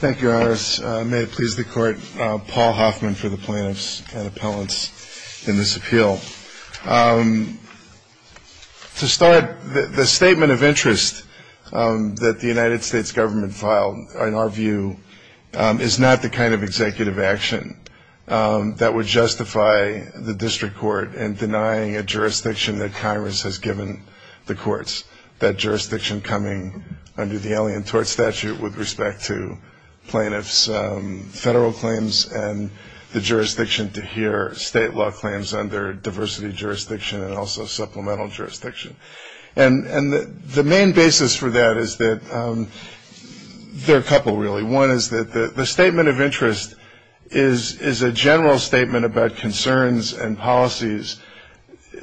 Thank you, Your Honor. May it please the Court, Paul Hoffman for the plaintiffs and appellants in this appeal. To start, the statement of interest that the United States government filed, in our view, is not the kind of executive action that would justify the district court in denying a jurisdiction that Congress has given the courts, that jurisdiction coming under the Alien Tort Statute with respect to plaintiffs' federal claims and the jurisdiction to hear state law claims under diversity jurisdiction and also supplemental jurisdiction. And the main basis for that is that there are a couple, really. One is that the statement of interest is a general statement about concerns and policies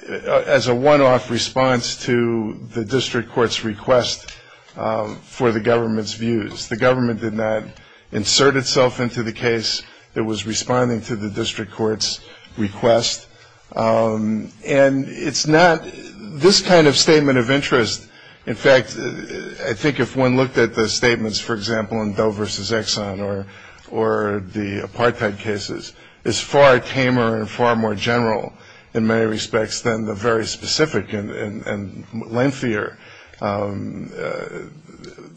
as a one-off response to the district court's request for the government's views. The government did not insert itself into the case. It was responding to the district court's request. And it's not this kind of statement of interest. In fact, I think if one looked at the statements, for example, in Doe v. Exxon or the apartheid cases, it's far tamer and far more general in many respects than the very specific and lengthier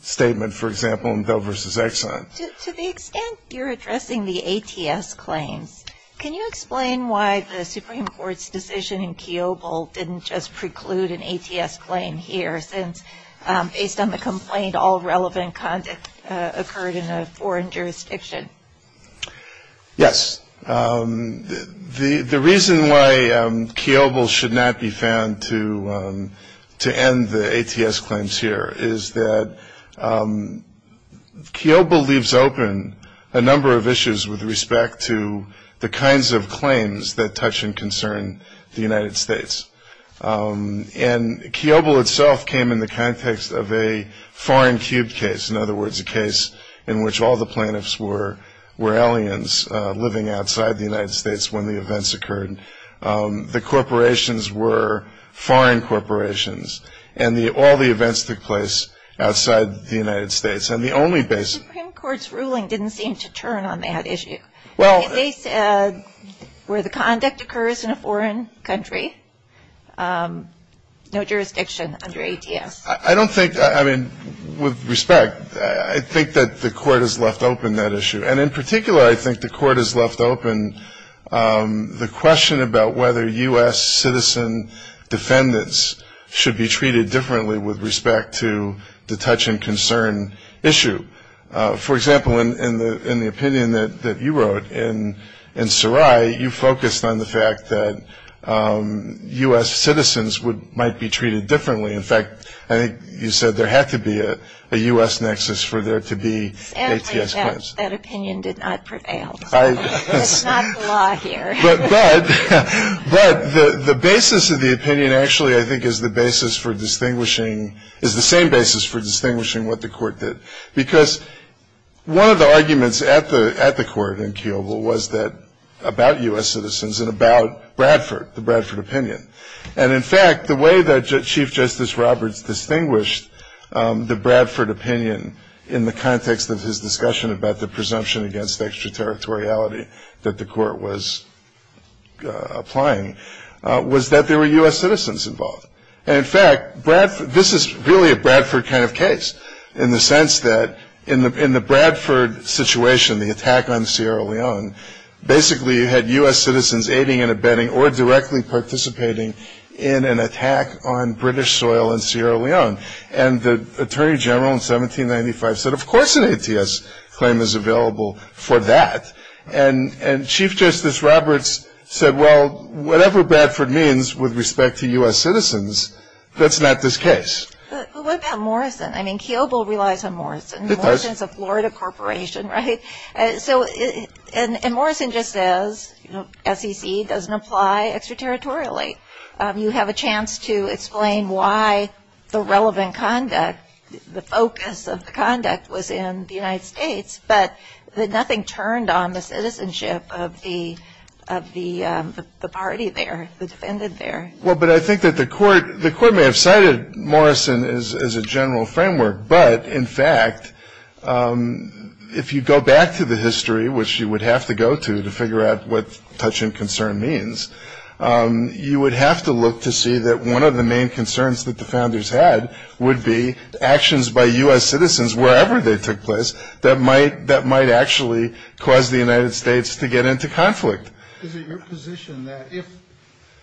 statement, for example, in Doe v. Exxon. To the extent you're addressing the ATS claim, can you explain why the Supreme Court's decision in Kiobel didn't just preclude an ATS claim here, since based on the complaint, all relevant conduct occurred in a foreign jurisdiction? Yes. The reason why Kiobel should not be found to end the ATS claims here is that Kiobel leaves open a number of issues with respect to the kinds of claims that touch and concern the United States. And Kiobel itself came in the context of a foreign cube case. In other words, a case in which all the plaintiffs were aliens living outside the United States when the events occurred. The corporations were foreign corporations. And all the events took place outside the United States. The Supreme Court's ruling didn't seem to turn on that issue. They said where the conduct occurs in a foreign country, no jurisdiction under ATS. I don't think, I mean, with respect, I think that the court has left open that issue. And in particular, I think the court has left open the question about whether U.S. citizen defendants should be treated differently with respect to the touch and concern issue. For example, in the opinion that you wrote in Sarai, you focused on the fact that U.S. citizens might be treated differently. In fact, I think you said there had to be a U.S. nexus for there to be ATS claims. That opinion did not prevail. That's not the law here. But the basis of the opinion actually, I think, is the basis for distinguishing, is the same basis for distinguishing what the court did. Because one of the arguments at the court in Kiobel was about U.S. citizens and about Bradford, the Bradford opinion. And, in fact, the way that Chief Justice Roberts distinguished the Bradford opinion in the context of his discussion about the presumption against extraterritoriality that the court was applying was that there were U.S. citizens involved. And, in fact, this is really a Bradford kind of case in the sense that in the Bradford situation, the attack on Sierra Leone basically had U.S. citizens aiding and abetting or directly participating in an attack on British soil in Sierra Leone. And the Attorney General in 1795 said, of course an ATS claim is available for that. And Chief Justice Roberts said, well, whatever Bradford means with respect to U.S. citizens, that's not this case. But what about Morrison? I mean, Kiobel relies on Morrison. Morrison is a Florida corporation, right? And Morrison just says SEC doesn't apply extraterritorially. You have a chance to explain why the relevant conduct, the focus of the conduct was in the United States, but that nothing turned on the citizenship of the party there, the defendant there. Well, but I think that the court may have cited Morrison as a general framework. But, in fact, if you go back to the history, which you would have to go to to figure out what touch and concern means, you would have to look to see that one of the main concerns that the founders had would be actions by U.S. citizens, wherever they took place, that might actually cause the United States to get into conflict. Is it your position that if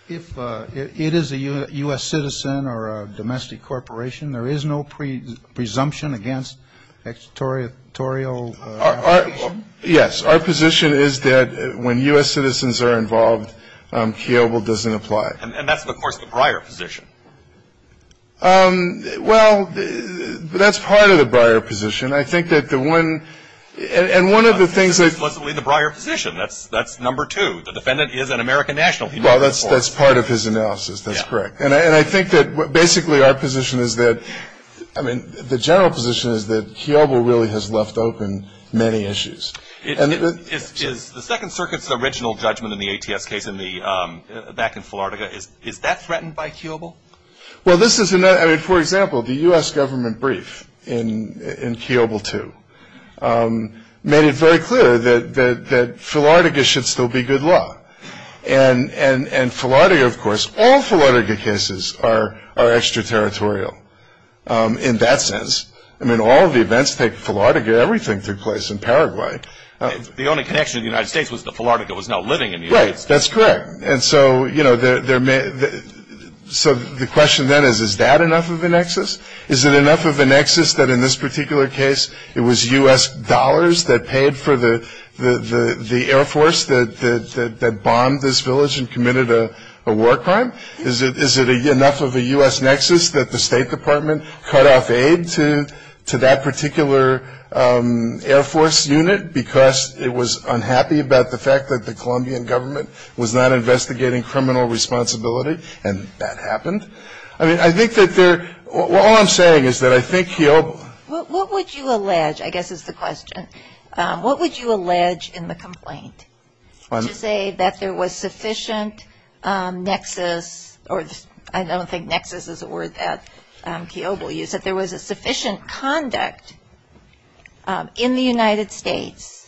it is a U.S. citizen or a domestic corporation, there is no presumption against extraterritorial? Yes, our position is that when U.S. citizens are involved, Kiobel doesn't apply. And that's, of course, the Breyer position. Well, that's part of the Breyer position. And I think that the one – and one of the things that – That wasn't really the Breyer position. That's number two. The defendant is an American national. Well, that's part of his analysis. That's correct. And I think that basically our position is that – I mean, the general position is that Kiobel really has left open many issues. The Second Circuit's original judgment in the ATS case back in Florida, is that threatened by Kiobel? Well, this is another – I mean, for example, the U.S. government brief in Kiobel II made it very clear that Philardia should still be good law. And Philardia, of course – all Philardia cases are extraterritorial in that sense. I mean, all of the events take place in Philardia. Everything took place in Paraguay. The only connection in the United States was that Philardia was now living in the United States. Right, that's correct. And so, you know, there may – so the question then is, is that enough of a nexus? Is it enough of a nexus that in this particular case it was U.S. dollars that paid for the Air Force that bombed this village and committed a war crime? Is it enough of a U.S. nexus that the State Department cut off aid to that particular Air Force unit because it was unhappy about the fact that the Colombian government was not investigating criminal responsibility and that happened? I mean, I think that there – all I'm saying is that I think Kiobel – What would you allege – I guess is the question – what would you allege in the complaint to say that there was sufficient nexus – or I don't think nexus is a word that Kiobel used – that there was a sufficient conduct in the United States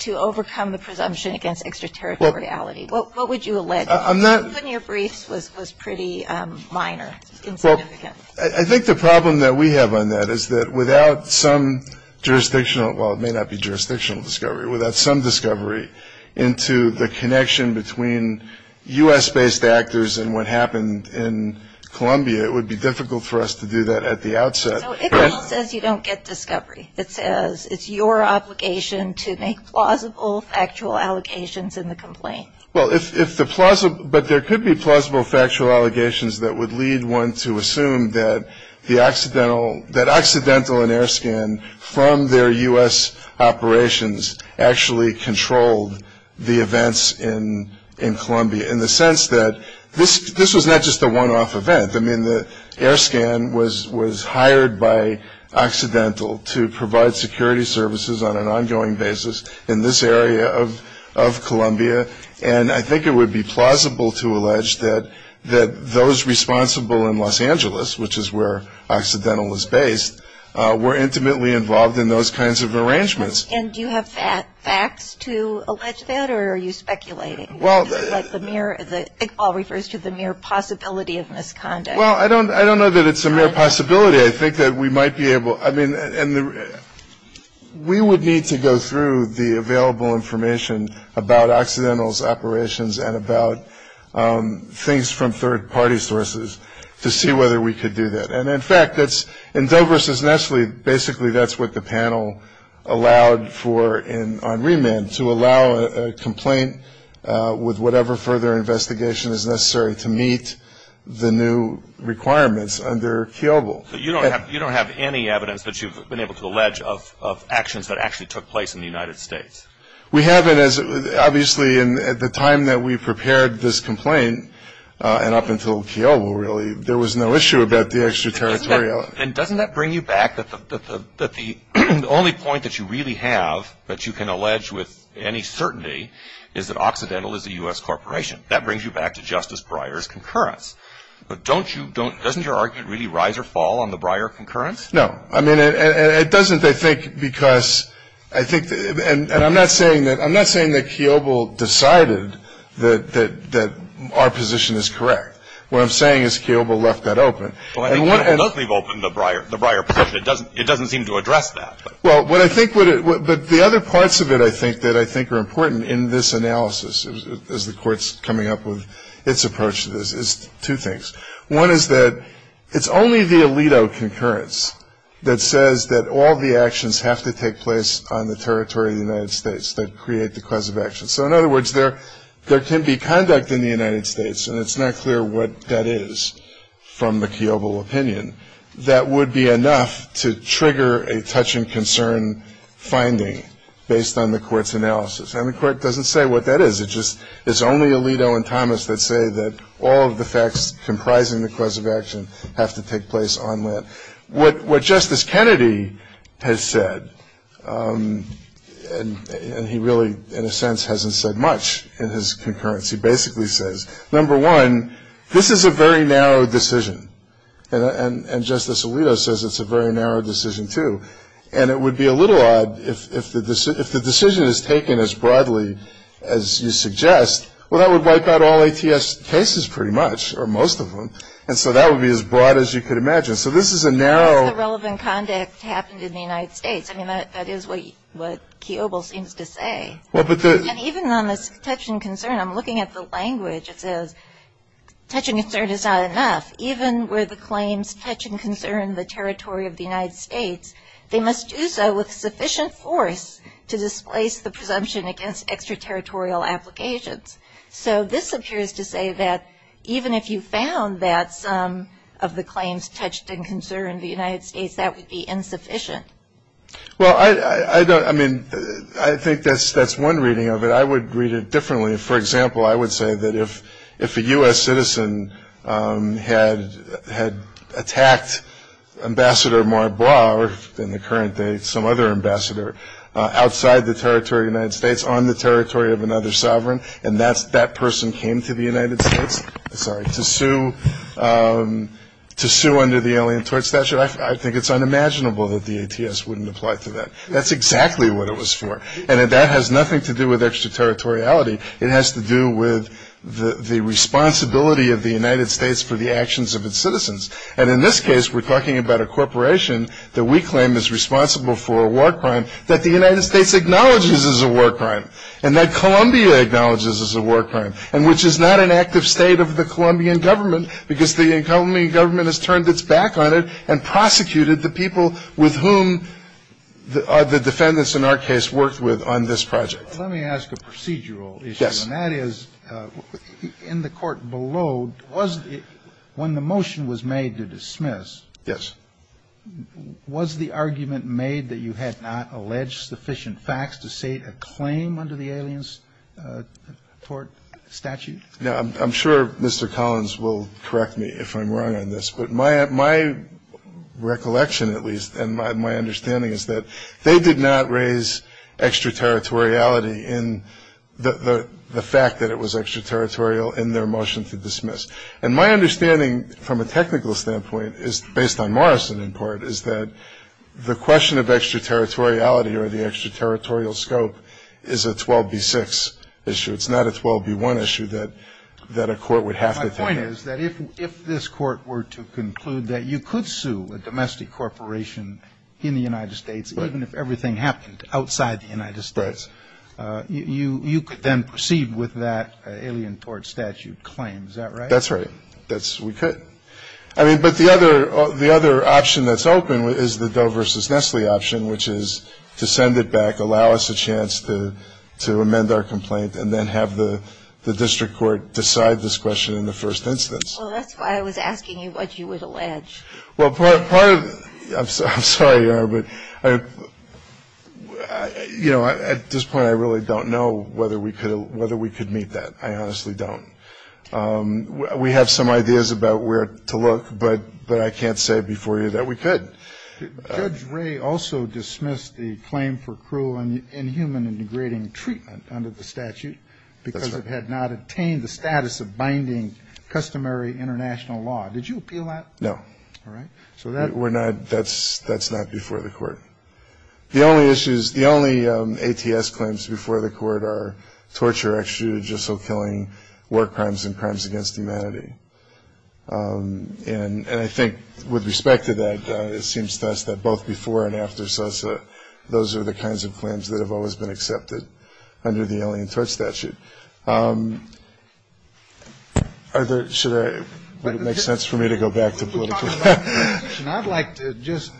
to overcome the presumption against extraterritoriality? What would you allege? Putting your briefs was pretty minor. I think the problem that we have on that is that without some jurisdictional – well, it may not be jurisdictional discovery – but without some discovery into the connection between U.S.-based actors and what happened in Colombia, it would be difficult for us to do that at the outset. No, it almost says you don't get discovery. It says it's your obligation to make plausible factual allegations in the complaint. Well, if the – but there could be plausible factual allegations that would lead one to assume that the accidental – from their U.S. operations actually controlled the events in Colombia in the sense that this was not just a one-off event. I mean, the air scan was hired by Occidental to provide security services on an ongoing basis in this area of Colombia, and I think it would be plausible to allege that those responsible in Los Angeles, which is where Occidental is based, were intimately involved in those kinds of arrangements. And do you have facts to allege that, or are you speculating that the mere – it all refers to the mere possibility of misconduct? Well, I don't know that it's a mere possibility. I think that we might be able – I mean, we would need to go through the available information about Occidental's operations and about things from third-party sources to see whether we could do that. And, in fact, it's – in Dover v. Nestle, basically, that's what the panel allowed for on remand, to allow a complaint with whatever further investigation is necessary to meet the new requirements under Kiobel. So you don't have any evidence that you've been able to allege of actions that actually took place in the United States? We haven't, as – obviously, at the time that we prepared this complaint, and up until Kiobel, really, there was no issue about the extraterritorial – And doesn't that bring you back that the only point that you really have that you can allege with any certainty is that Occidental is a U.S. corporation? That brings you back to Justice Breyer's concurrence. But don't you – doesn't your argument really rise or fall on the Breyer concurrence? No. I mean, it doesn't, I think, because I think – and I'm not saying that – I'm not saying that Kiobel decided that our position is correct. What I'm saying is Kiobel left that open. Well, I think he must have opened the Breyer position. It doesn't seem to address that. Well, what I think – but the other parts of it, I think, that I think are important in this analysis, as the Court's coming up with its approach to this, is two things. One is that it's only the Alito concurrence that says that all the actions have to take place on the territory of the United States that create the cause of action. So, in other words, there can be conduct in the United States – and it's not clear what that is from the Kiobel opinion – that would be enough to trigger a touch-and-concern finding based on the Court's analysis. And the Court doesn't say what that is. It just – it's only Alito and Thomas that say that all of the facts comprising the cause of action have to take place on land. What Justice Kennedy has said – and he really, in a sense, hasn't said much in his concurrence. He basically says, number one, this is a very narrow decision. And Justice Alito says it's a very narrow decision, too. And it would be a little odd if the decision is taken as broadly as you suggest. Well, that would wipe out all ATS cases, pretty much, or most of them. And so that would be as broad as you could imagine. So this is a narrow – That's irrelevant conduct happened in the United States. I mean, that is what Kiobel seems to say. Well, but the – And even on this touch-and-concern, I'm looking at the language. Touch-and-concern is not enough. Even where the claims touch-and-concern the territory of the United States, they must do so with sufficient force to displace the presumption against extraterritorial applications. So this appears to say that even if you found that some of the claims touched-and-concern the United States, that would be insufficient. Well, I don't – I mean, I think that's one reading of it. I would read it differently. I mean, for example, I would say that if a U.S. citizen had attacked Ambassador Maura Blair, in the current day some other ambassador, outside the territory of the United States, on the territory of another sovereign, and that person came to the United States – sorry – to sue under the Alien Tort Special Act, I think it's unimaginable that the ATS wouldn't apply to that. That's exactly what it was for. And that has nothing to do with extraterritoriality. It has to do with the responsibility of the United States for the actions of its citizens. And in this case, we're talking about a corporation that we claim is responsible for a war crime that the United States acknowledges is a war crime and that Colombia acknowledges is a war crime, and which is not an active state of the Colombian government because the Colombian government has turned its back on it and prosecuted the people with whom the defendants in our case worked with on this project. Let me ask a procedural issue. And that is, in the court below, when the motion was made to dismiss, was the argument made that you had not alleged sufficient facts to state a claim under the Aliens Tort Statute? I'm sure Mr. Collins will correct me if I'm wrong on this. But my recollection, at least, and my understanding is that they did not raise extraterritoriality in the fact that it was extraterritorial in their motion to dismiss. And my understanding from a technical standpoint, based on Morrison in part, is that the question of extraterritoriality or the extraterritorial scope is a 12B6 issue. It's not a 12B1 issue that a court would have to think about. If this court were to conclude that you could sue a domestic corporation in the United States, even if everything happened outside the United States, you could then proceed with that Alien Tort Statute claim. Is that right? That's right. We could. But the other option that's open is the Doe v. Nestle option, which is to send it back, allow us a chance to amend our complaint, and then have the district court decide this question in the first instance. Well, that's why I was asking you what you would allege. Well, part of – I'm sorry, but, you know, at this point I really don't know whether we could meet that. I honestly don't. We have some ideas about where to look, but I can't say before you that we could. Judge Ray also dismissed the claim for cruel and inhuman and degrading treatment under the statute because it had not obtained the status of binding customary international law. Did you appeal that? No. All right. We're not – that's not before the court. The only issues – the only ATS claims before the court are torture, extradition, so killing, war crimes, and crimes against humanity. And I think with respect to that, it seems best that both before and after SOSA, those are the kinds of claims that have always been accepted under the Alien Tort Statute. Are there – should I – would it make sense for me to go back to political – I'd like to just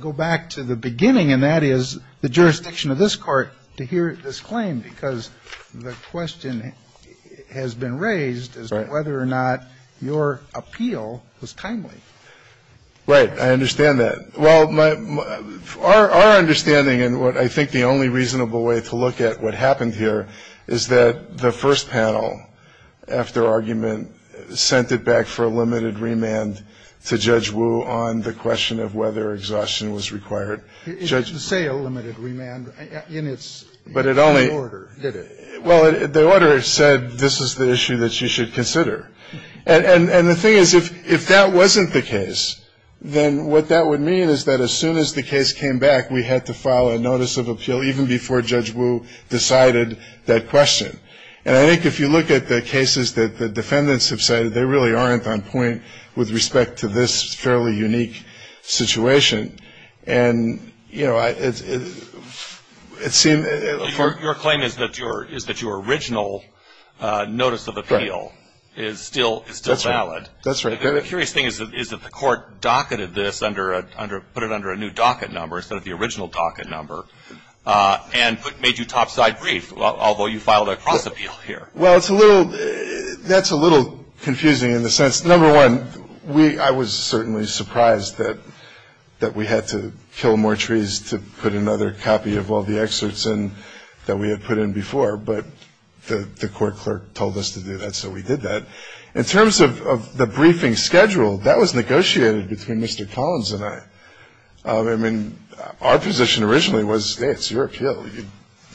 go back to the beginning, and that is the jurisdiction of this court to hear this claim because the question has been raised as to whether or not your appeal was timely. Right. I understand that. Well, my – our understanding and what I think the only reasonable way to look at what happened here is that the first panel after argument sent it back for a limited remand to Judge Wu on the question of whether exhaustion was required. It didn't say a limited remand in its order, did it? Well, the order said this is the issue that you should consider. And the thing is, if that wasn't the case, then what that would mean is that as soon as the case came back, we had to file a notice of appeal even before Judge Wu decided that question. And I think if you look at the cases that the defendants have cited, they really aren't on point with respect to this fairly unique situation. And, you know, it seems – Your claim is that your original notice of appeal is still valid. That's right. The curious thing is that the court docketed this under – put it under a new docket number instead of the original docket number and made you topside brief, although you filed a cross-appeal here. Well, it's a little – that's a little confusing in the sense, number one, I was certainly surprised that we had to kill more trees to put another copy of all the excerpts in that we had put in before. But the court clerk told us to do that, so we did that. In terms of the briefing schedule, that was negotiated between Mr. Collins and I. I mean, our position originally was, hey, it's your appeal.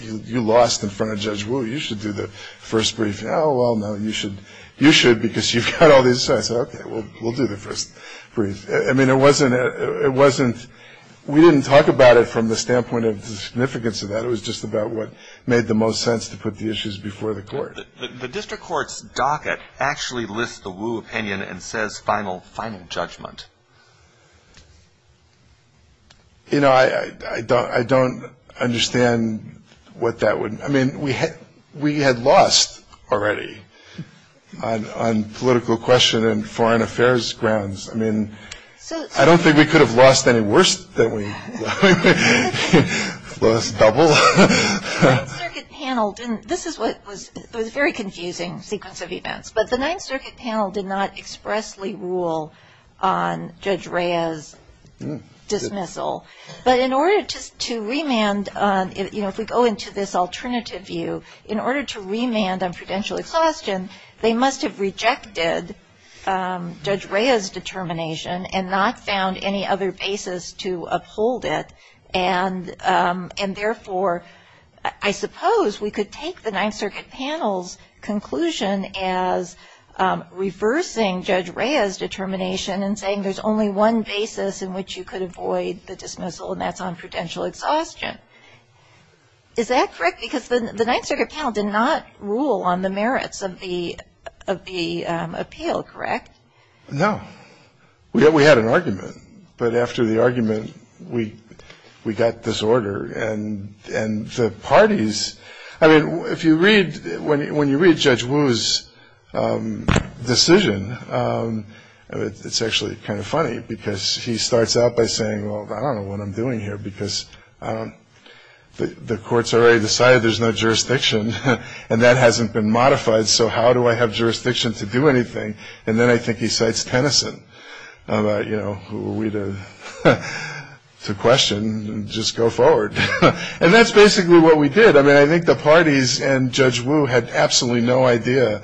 You lost in front of Judge Wu. You should do the first brief. Oh, well, no, you should. You should because you've got all the insight. And I said, okay, we'll do the first brief. I mean, it wasn't – we didn't talk about it from the standpoint of the significance of that. It was just about what made the most sense to put the issues before the court. The district court's docket actually lists the Wu opinion and says final judgment. You know, I don't understand what that would – I mean, we had lost already on political question and foreign affairs grounds. I mean, I don't think we could have lost any worse than we lost double. The Ninth Circuit panel didn't – this is what was – it was a very confusing sequence of events. But the Ninth Circuit panel did not expressly rule on Judge Rea's dismissal. But in order to remand on – you know, if we go into this alternative view, in order to remand on prudential question, they must have rejected Judge Rea's determination and not found any other basis to uphold it. And therefore, I suppose we could take the Ninth Circuit panel's conclusion as reversing Judge Rea's determination and saying there's only one basis in which you could avoid the dismissal, and that's on prudential exhaustion. Is that correct? Because the Ninth Circuit panel did not rule on the merits of the appeal, correct? No. We had an argument. But after the argument, we got this order. And the parties – I mean, if you read – when you read Judge Wu's decision, it's actually kind of funny, because he starts out by saying, well, I don't know what I'm doing here, because the court's already decided there's no jurisdiction, and that hasn't been modified, so how do I have jurisdiction to do anything? And then I think he cites Tennyson about, you know, who are we to question and just go forward. And that's basically what we did. I mean, I think the parties and Judge Wu had absolutely no idea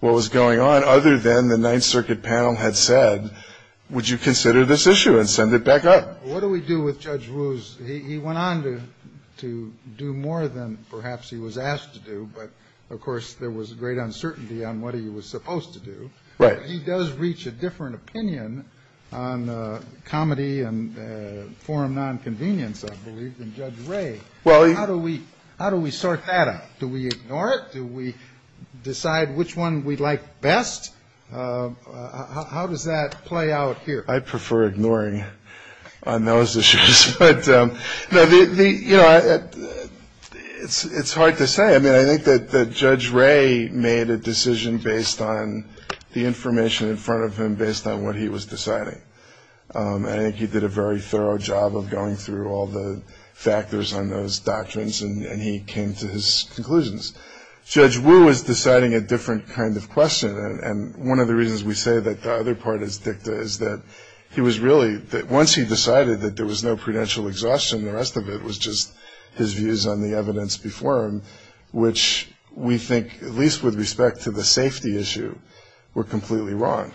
what was going on, other than the Ninth Circuit panel had said, would you consider this issue and send it back up? What do we do with Judge Wu's – he went on to do more than perhaps he was asked to do, but, of course, there was great uncertainty on what he was supposed to do. But he does reach a different opinion on comedy and forum nonconvenience, I believe, than Judge Wray. How do we sort that out? Do we ignore it? Do we decide which one we like best? How does that play out here? I prefer ignoring on those issues. But, you know, it's hard to say. I mean, I think that Judge Wray made a decision based on the information in front of him, based on what he was deciding. I think he did a very thorough job of going through all the factors on those doctrines, and he came to his conclusions. Judge Wu is deciding a different kind of question, and one of the reasons we say that the other part is dicta is that he was really – that once he decided that there was no prudential exhaustion, the rest of it was just his views on the evidence before him, which we think, at least with respect to the safety issue, were completely wrong.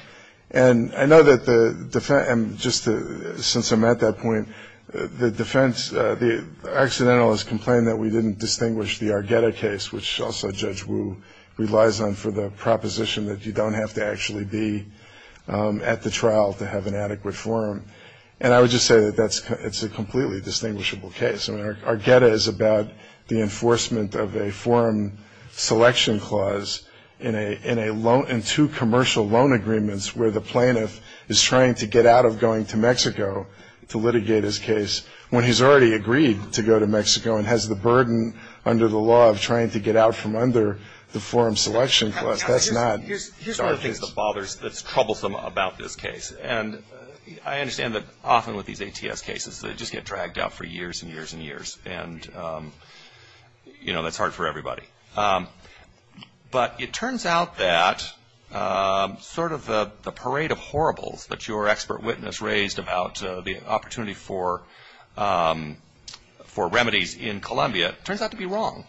And I know that the – and just since I'm at that point, the defense – the accidentalists complained that we didn't distinguish the Argetta case, which also Judge Wu relies on for the proposition that you don't have to actually be at the trial to have an adequate forum. And I would just say that that's a completely distinguishable case. I mean, Argetta is about the enforcement of a forum selection clause in a loan – in two commercial loan agreements where the plaintiff is trying to get out of going to Mexico to litigate his case and has the burden under the law of trying to get out from under the forum selection clause. That's not – Here's one of the things that bothers – that's troublesome about this case, and I understand that often with these ATS cases they just get dragged out for years and years and years, and, you know, that's hard for everybody. But it turns out that sort of the parade of horribles that your expert witness raised about the opportunity for remedies in Colombia turns out to be wrong.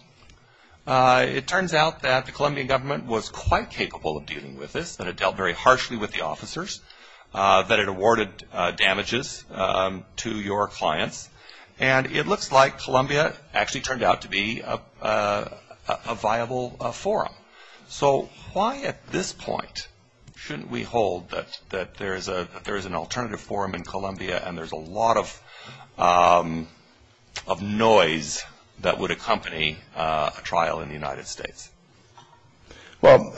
It turns out that the Colombian government was quite capable of dealing with this, that it dealt very harshly with the officers, that it awarded damages to your clients, and it looks like Colombia actually turned out to be a viable forum. So why at this point shouldn't we hold that there is an alternative forum in Colombia and there's a lot of noise that would accompany a trial in the United States? Well,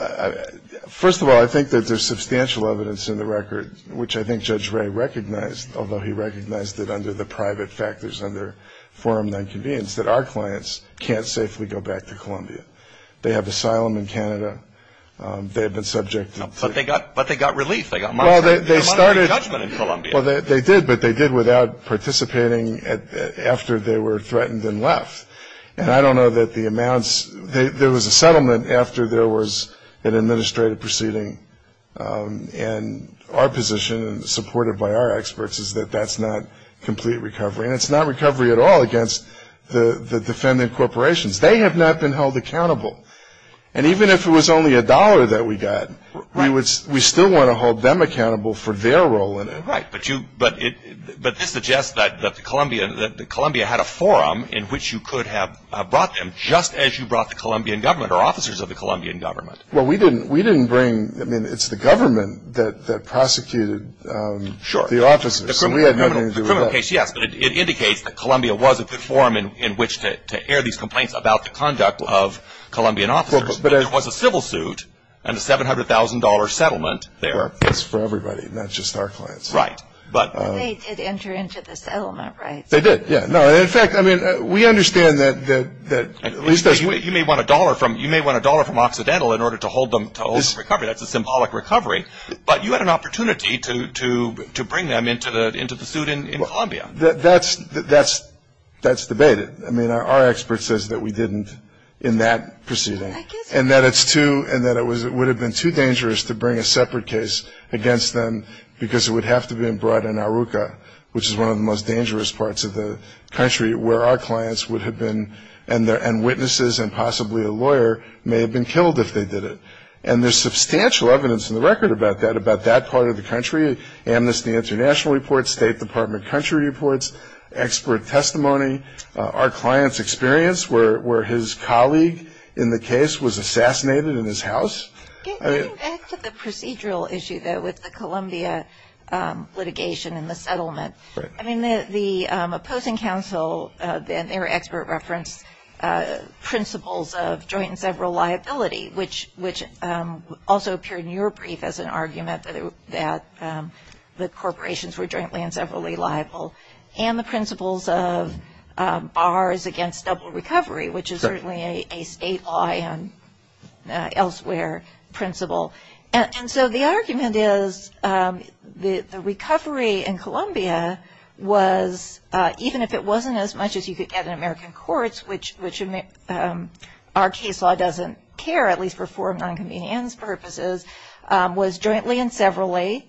first of all, I think that there's substantial evidence in the record, which I think Judge Ray recognized, although he recognized it under the private factors under forum nonconvenience, that our clients can't safely go back to Colombia. They have asylum in Canada. They have been subject to – But they got released. Well, they did, but they did without participating after they were threatened and left. And I don't know that the amounts – there was a settlement after there was an administrative proceeding, and our position, supported by our experts, is that that's not complete recovery, and it's not recovery at all against the defendant corporations. They have not been held accountable. And even if it was only a dollar that we got, we still want to hold them accountable for their role in it. Right, but this suggests that Colombia had a forum in which you could have brought them, just as you brought the Colombian government or officers of the Colombian government. Well, we didn't bring – I mean, it's the government that prosecuted the officers. The criminal case, yes, but it indicates that Colombia was a forum in which to air these complaints about the conduct of Colombian officers. But there was a civil suit and a $700,000 settlement there. That's for everybody, not just our clients. Right, but – They did enter into the settlement, right? They did, yeah. No, in fact, I mean, we understand that – You may want a dollar from Occidental in order to hold them to a symbolic recovery, but you had an opportunity to bring them into the suit in Colombia. That's debated. I mean, our expert says that we didn't in that proceeding, and that it's too – and that it would have been too dangerous to bring a separate case against them because it would have to have been brought in Aruca, which is one of the most dangerous parts of the country, where our clients would have been – and witnesses and possibly a lawyer may have been killed if they did it. And there's substantial evidence in the record about that, about that part of the country, Amnesty International reports, State Department country reports, expert testimony, our clients' experience where his colleague in the case was assassinated in his house. Can you answer the procedural issue, though, with the Colombia litigation and the settlement? Right. I mean, the opposing counsel and their expert reference principles of joint and federal liability, which also appeared in your brief as an argument that the corporations were jointly and federally liable, and the principles of ours against double recovery, which is certainly a statewide and elsewhere principle. And so the argument is the recovery in Colombia was – even if it wasn't as much as you could get in American courts, which in our case law doesn't care, at least for foreign non-convenience purposes, was jointly and federally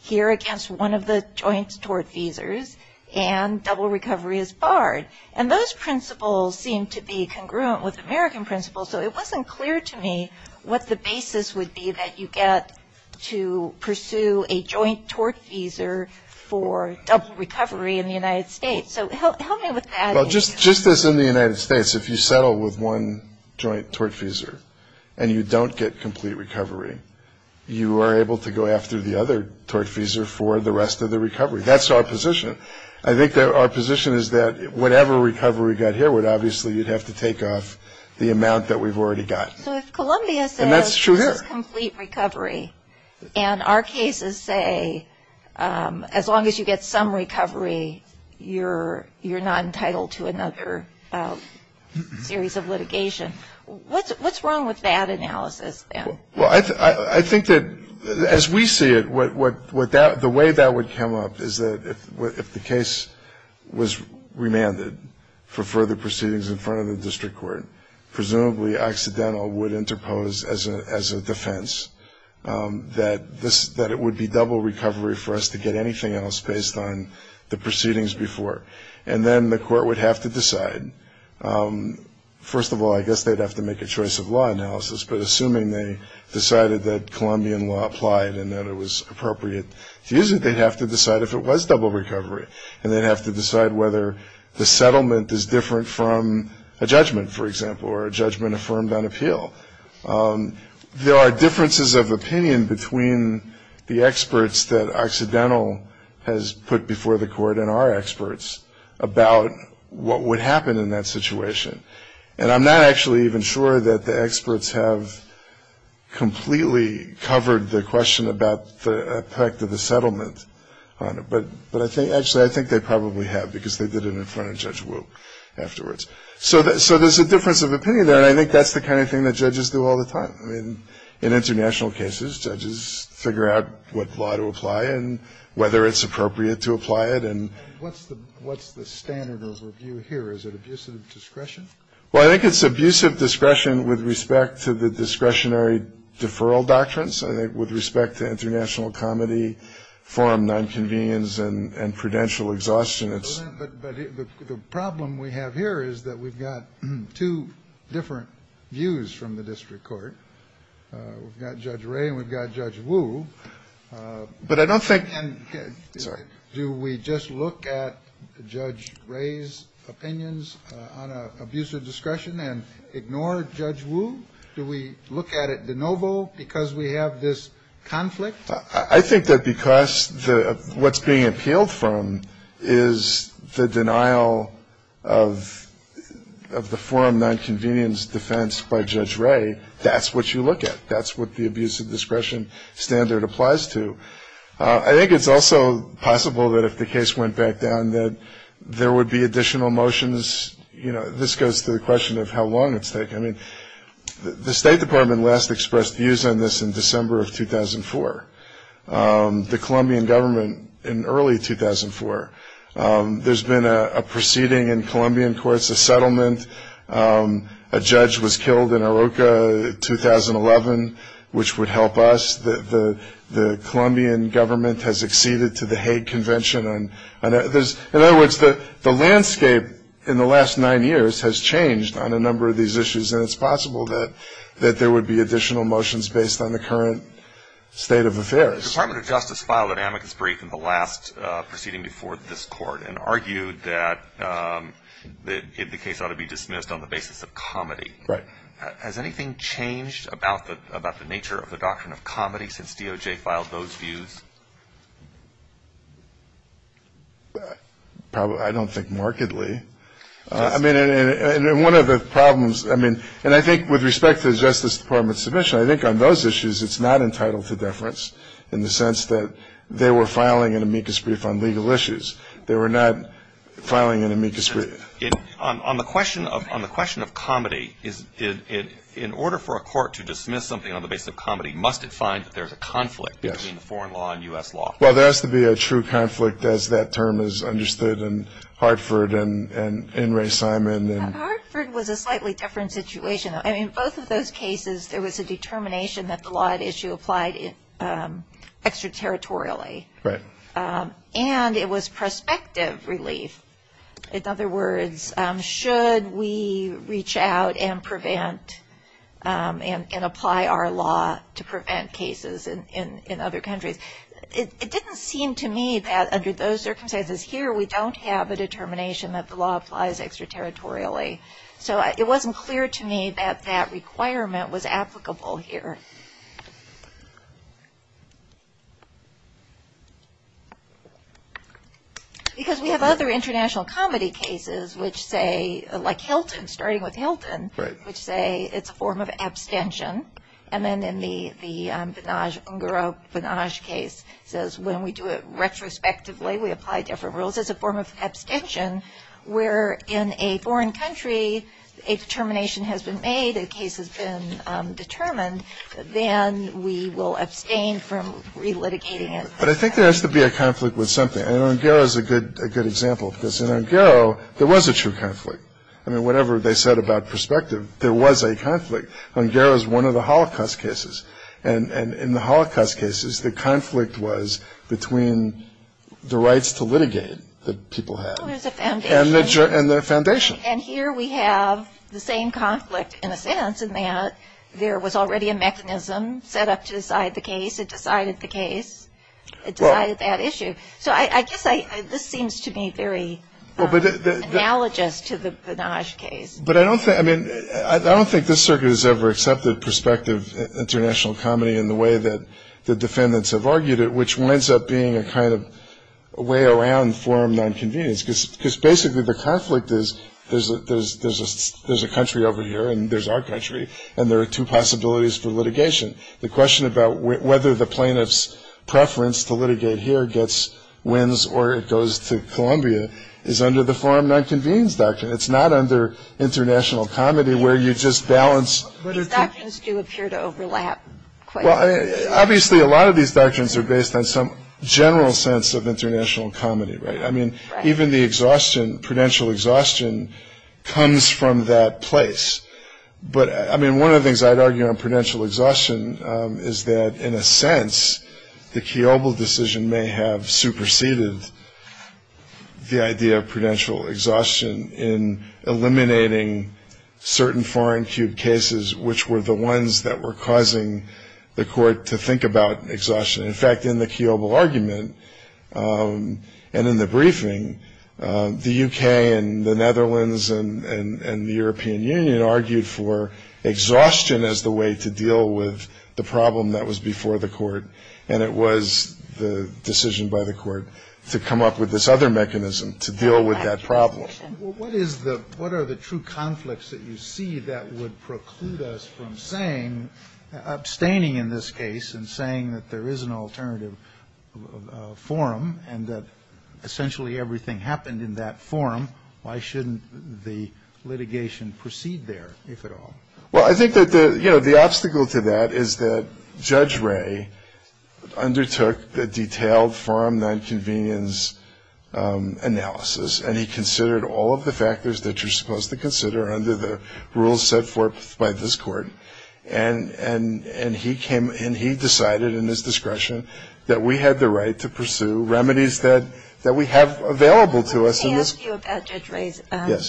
here against one of the joint tort feasors, and double recovery is barred. And those principles seem to be congruent with American principles, so it wasn't clear to me what the basis would be that you get to pursue a joint tort feasor for double recovery in the United States. Well, just as in the United States, if you settle with one joint tort feasor and you don't get complete recovery, you are able to go after the other tort feasor for the rest of the recovery. That's our position. I think our position is that whatever recovery we got here would obviously – you'd have to take off the amount that we've already got. And that's true here. And our cases say as long as you get some recovery, you're not entitled to another series of litigation. What's wrong with that analysis? Well, I think that as we see it, the way that would come up is if the case was remanded for further proceedings in front of the district court, presumably accidental, would interpose as a defense, that it would be double recovery for us to get anything else based on the proceedings before. And then the court would have to decide. First of all, I guess they'd have to make a choice of law analysis, but assuming they decided that Colombian law applied and that it was appropriate, usually they'd have to decide if it was double recovery, and they'd have to decide whether the settlement is different from a judgment, for example, or a judgment affirmed on appeal. There are differences of opinion between the experts that Occidental has put before the court and our experts about what would happen in that situation. And I'm not actually even sure that the experts have completely covered the question about the effect of the settlement. But actually, I think they probably have because they did it in front of Judge Wilk afterwards. So there's a difference of opinion there, and I think that's the kind of thing that judges do all the time. I mean, in international cases, judges figure out what law to apply and whether it's appropriate to apply it. What's the standard of review here? Is it abuse of discretion? Well, I think it's abuse of discretion with respect to the discretionary deferral doctrines, with respect to international comedy, forum nonconvenience, and prudential exhaustion. But the problem we have here is that we've got two different views from the district court. We've got Judge Ray and we've got Judge Wu. But I don't think – Sorry. Do we just look at Judge Ray's opinions on abuse of discretion and ignore Judge Wu? Do we look at it de novo because we have this conflict? I think that because what's being appealed from is the denial of the forum nonconvenience defense by Judge Ray. That's what you look at. That's what the abuse of discretion standard applies to. I think it's also possible that if the case went back down that there would be additional motions. You know, this goes to the question of how long it's taken. I mean, the State Department last expressed views on this in December of 2004. The Colombian government in early 2004. There's been a proceeding in Colombian courts, a settlement. A judge was killed in Aroca 2011, which would help us. The Colombian government has acceded to the Hague Convention. In other words, the landscape in the last nine years has changed on a number of these issues, and it's possible that there would be additional motions based on the current state of affairs. The Department of Justice filed an amicus brief in the last proceeding before this court and argued that the case ought to be dismissed on the basis of comedy. Has anything changed about the nature of the doctrine of comedy since DOJ filed those views? I don't think markedly. I mean, one of the problems, and I think with respect to the Justice Department's submission, I think on those issues it's not entitled to deference in the sense that they were filing an amicus brief on legal issues. They were not filing an amicus brief. On the question of comedy, in order for a court to dismiss something on the basis of comedy, must it find that there's a conflict between foreign law and U.S. law? Well, there has to be a true conflict, as that term is understood in Hartford and in Ray Simon. Hartford was a slightly different situation. In both of those cases, there was a determination that the law at issue applied extraterritorially, and it was prospective relief. In other words, should we reach out and prevent and apply our law to prevent cases in other countries? It didn't seem to me that under those circumstances here we don't have a determination that the law applies extraterritorially. So it wasn't clear to me that that requirement was applicable here. Because we have other international comedy cases, which say, like Hilton, starting with Hilton, which say it's a form of abstention. And then in the Vanage case, when we do it retrospectively, we apply different rules, it's a form of abstention where in a foreign country a determination has been made, a case has been determined, then we will abstain from relitigating it. But I think there has to be a conflict with something. And Ongaro is a good example of this. In Ongaro, there was a true conflict. I mean, whatever they said about prospective, there was a conflict. Ongaro is one of the Holocaust cases. And in the Holocaust cases, the conflict was between the rights to litigate that people had and the foundation. And here we have the same conflict, in a sense, in that there was already a mechanism set up to decide the case. It decided the case. It decided that issue. So I guess this seems to me very analogous to the Vanage case. But I don't think this circuit has ever accepted prospective international comedy in the way that the defendants have argued it, which winds up being a kind of way around forum nonconvenience. Because basically the conflict is there's a country over here, and there's our country, and there are two possibilities for litigation. The question about whether the plaintiff's preference to litigate here gets wins or it goes to Columbia is under the forum nonconvenience doctrine. It's not under international comedy where you just balance. The doctrines do appear to overlap quite a bit. Obviously, a lot of these doctrines are based on some general sense of international comedy, right? I mean, even the exhaustion, prudential exhaustion, comes from that place. But, I mean, one of the things I'd argue on prudential exhaustion is that, in a sense, the Kiobel decision may have superseded the idea of prudential exhaustion in eliminating certain foreign-queued cases, which were the ones that were causing the court to think about exhaustion. In fact, in the Kiobel argument and in the briefing, the U.K. and the Netherlands and the European Union argued for exhaustion as the way to deal with the problem that was before the court, and it was the decision by the court to come up with this other mechanism to deal with that problem. What are the true conflicts that you see that would preclude us from saying, abstaining in this case and saying that there is an alternative forum and that essentially everything happened in that forum, why shouldn't the litigation proceed there, if at all? Well, I think that the obstacle to that is that Judge Ray undertook the detailed forum nonconvenience analysis, and he considered all of the factors that you're supposed to consider under the rules set forth by this court. And he came and he decided in his discretion that we had the right to pursue remedies that we have available to us. Can I ask you about Judge Ray's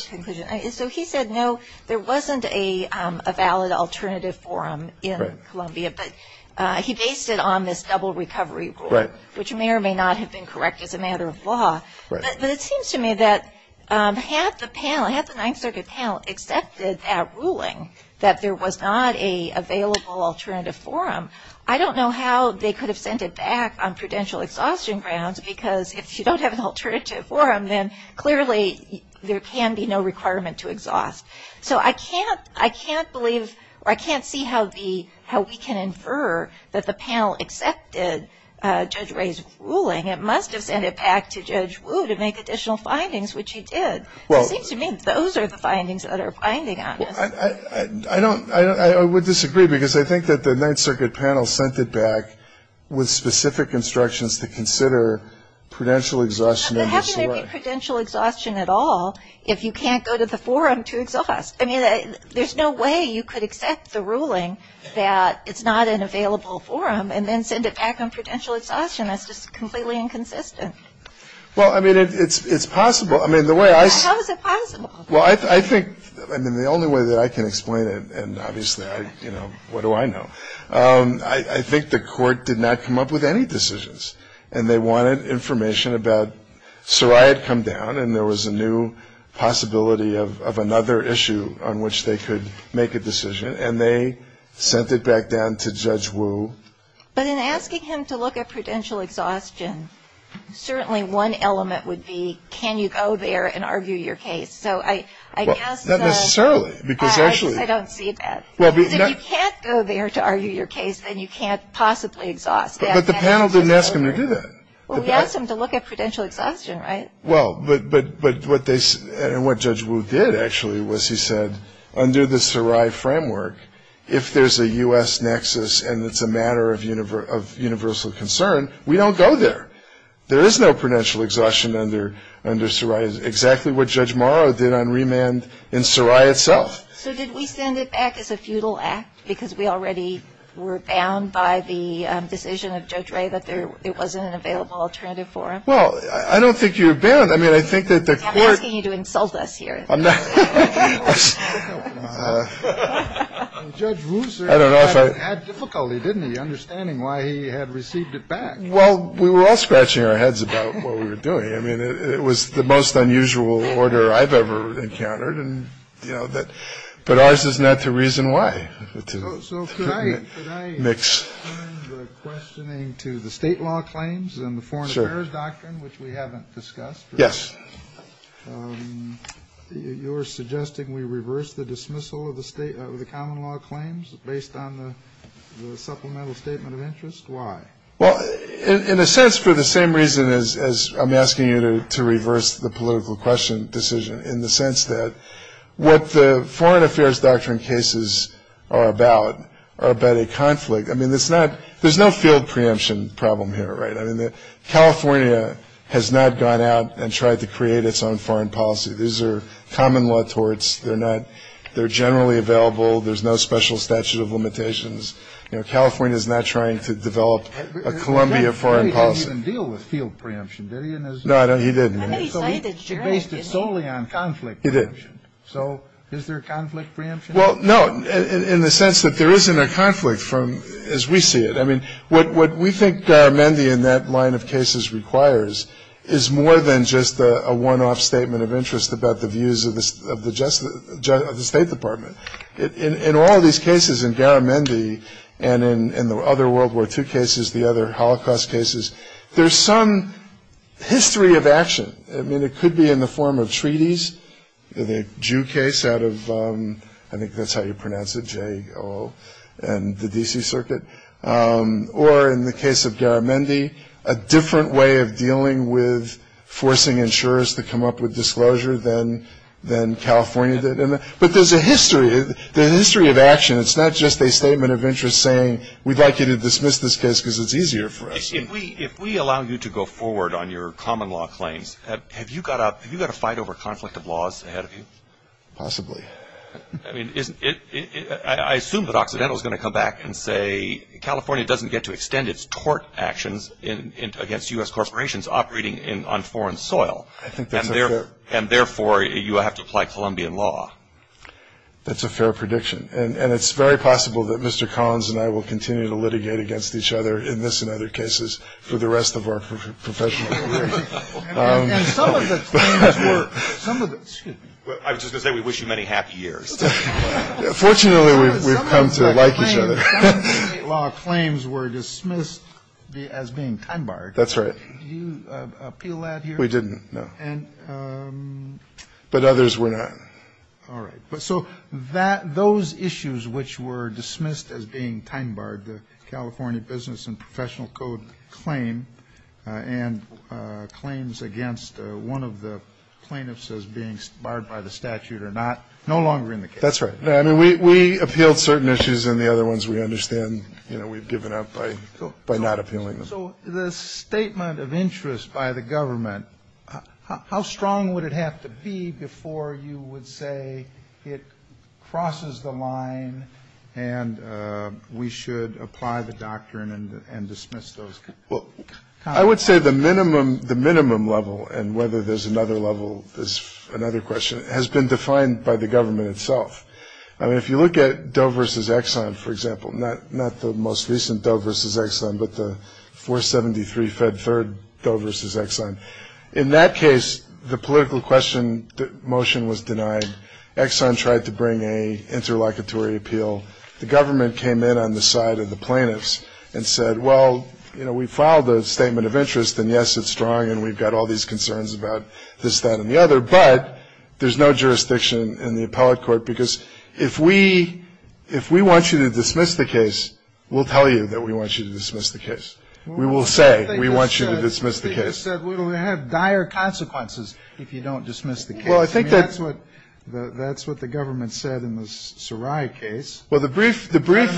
conclusion? Yes. So he said, no, there wasn't a valid alternative forum in Columbia, but he based it on this double recovery rule, which may or may not have been corrected as a matter of law. But it seems to me that had the panel, had the Ninth Circuit panel accepted that ruling, that there was not an available alternative forum, I don't know how they could have sent it back on prudential exhaustion grounds, because if you don't have an alternative forum, then clearly there can be no requirement to exhaust. So I can't believe, or I can't see how we can infer that the panel accepted Judge Ray's ruling. It must have sent it back to Judge Wu to make additional findings, which it did. It seems to me those are the findings that are binding on it. I don't, I would disagree, because I think that the Ninth Circuit panel sent it back with specific instructions to consider prudential exhaustion. There has to be prudential exhaustion at all if you can't go to the forum to exhaust. I mean, there's no way you could accept the ruling that it's not an available forum and then send it back on prudential exhaustion. That's just completely inconsistent. Well, I mean, it's possible. I mean, the way I. How is it possible? Well, I think, I mean, the only way that I can explain it, and obviously I, you know, what do I know? I think the court did not come up with any decisions. And they wanted information about, so I had come down, and there was a new possibility of another issue on which they could make a decision, and they sent it back down to Judge Wu. But in asking him to look at prudential exhaustion, certainly one element would be, can you go there and argue your case? So I guess that. Not necessarily, because actually. I don't see that. If you can't go there to argue your case, then you can't possibly exhaust. But the panel didn't ask him to do that. Well, we asked him to look at prudential exhaustion, right? Well, but what Judge Wu did, actually, was he said, under the Sarai framework, if there's a U.S. nexus and it's a matter of universal concern, we don't go there. There is no prudential exhaustion under Sarai. It's exactly what Judge Morrow did on remand in Sarai itself. So did we send it back as a futile act because we already were bound by the decision of Judge Ray that it wasn't an available alternative for him? Well, I don't think you've been. I mean, I think that the court insult us here. I don't know if I had difficulty in understanding why he had received it back. Well, we were all scratching our heads about what we were doing. I mean, it was the most unusual order I've ever encountered. And, you know, that but I said not to reason why. So today, Nick's name to the state law claims and the foreign affairs doctrine, which we haven't discussed. Yes. You're suggesting we reverse the dismissal of the state of the common law claims based on the supplemental statement of interest. Why? Well, in a sense, for the same reason as I'm asking you to reverse the political question, in the sense that what the foreign affairs doctrine cases are about are about a conflict. I mean, it's not there's no field preemption problem here. Right. I mean, California has not gone out and tried to create its own foreign policy. These are common law torts. They're not they're generally available. There's no special statute of limitations. California is not trying to develop a Columbia foreign policy deal with field preemption. He didn't. So he based it solely on conflict. He did. So is there a conflict? Well, no. And in the sense that there isn't a conflict from as we see it. I mean, what we think Daramondi in that line of cases requires is more than just a one off statement of interest about the views of the of the state department. In all these cases, in Daramondi and in the other World War two cases, the other Holocaust cases. There's some history of action. I mean, it could be in the form of treaties in a Jew case out of. I think that's how you pronounce it. J.O. and the D.C. Circuit. Or in the case of Daramondi, a different way of dealing with forcing insurers to come up with disclosure than than California. But there's a history, the history of action. It's not just a statement of interest saying we'd like you to dismiss this case because it's easier for us. If we if we allow you to go forward on your common law claims, have you got up? Have you got to fight over conflict of laws ahead of you? Possibly. I mean, I assume that occidental is going to come back and say California doesn't get to extend its tort actions against U.S. corporations operating in on foreign soil. I think they're there. And therefore, you have to apply Colombian law. That's a fair prediction. And it's very possible that Mr. Collins and I will continue to litigate against each other in this and other cases for the rest of our professional. And some of the some of the I was going to say, we wish you many happy years. Fortunately, we've come to like each other. Law claims were dismissed as being time barred. That's right. You appeal that. We didn't know. And but others were not. But so that those issues which were dismissed as being time barred, the California Business and Professional Code claim and claims against one of the plaintiffs as being barred by the statute or not, no longer in the. That's right. I mean, we appealed certain issues and the other ones we understand. We've given up by not appealing. So the statement of interest by the government, how strong would it have to be before you would say it crosses the line and we should apply the doctrine and dismiss those? Well, I would say the minimum the minimum level and whether there's another level is another question has been defined by the government itself. I mean, if you look at Doe versus Exxon, for example, not not the most recent Doe versus Exxon, but the four seventy three Fed third Doe versus Exxon. In that case, the political question motion was denied. Exxon tried to bring a interlocutory appeal. The government came in on the side of the plaintiffs and said, well, you know, we filed a statement of interest. And yes, it's strong and we've got all these concerns about this, that and the other. But there's no jurisdiction in the appellate court, because if we if we want you to dismiss the case, we'll tell you that we want you to dismiss the case. We will say we want you to dismiss the case. We have dire consequences if you don't dismiss the. Well, I think that's what that's what the government said in the Sarai case. Well, the brief the brief.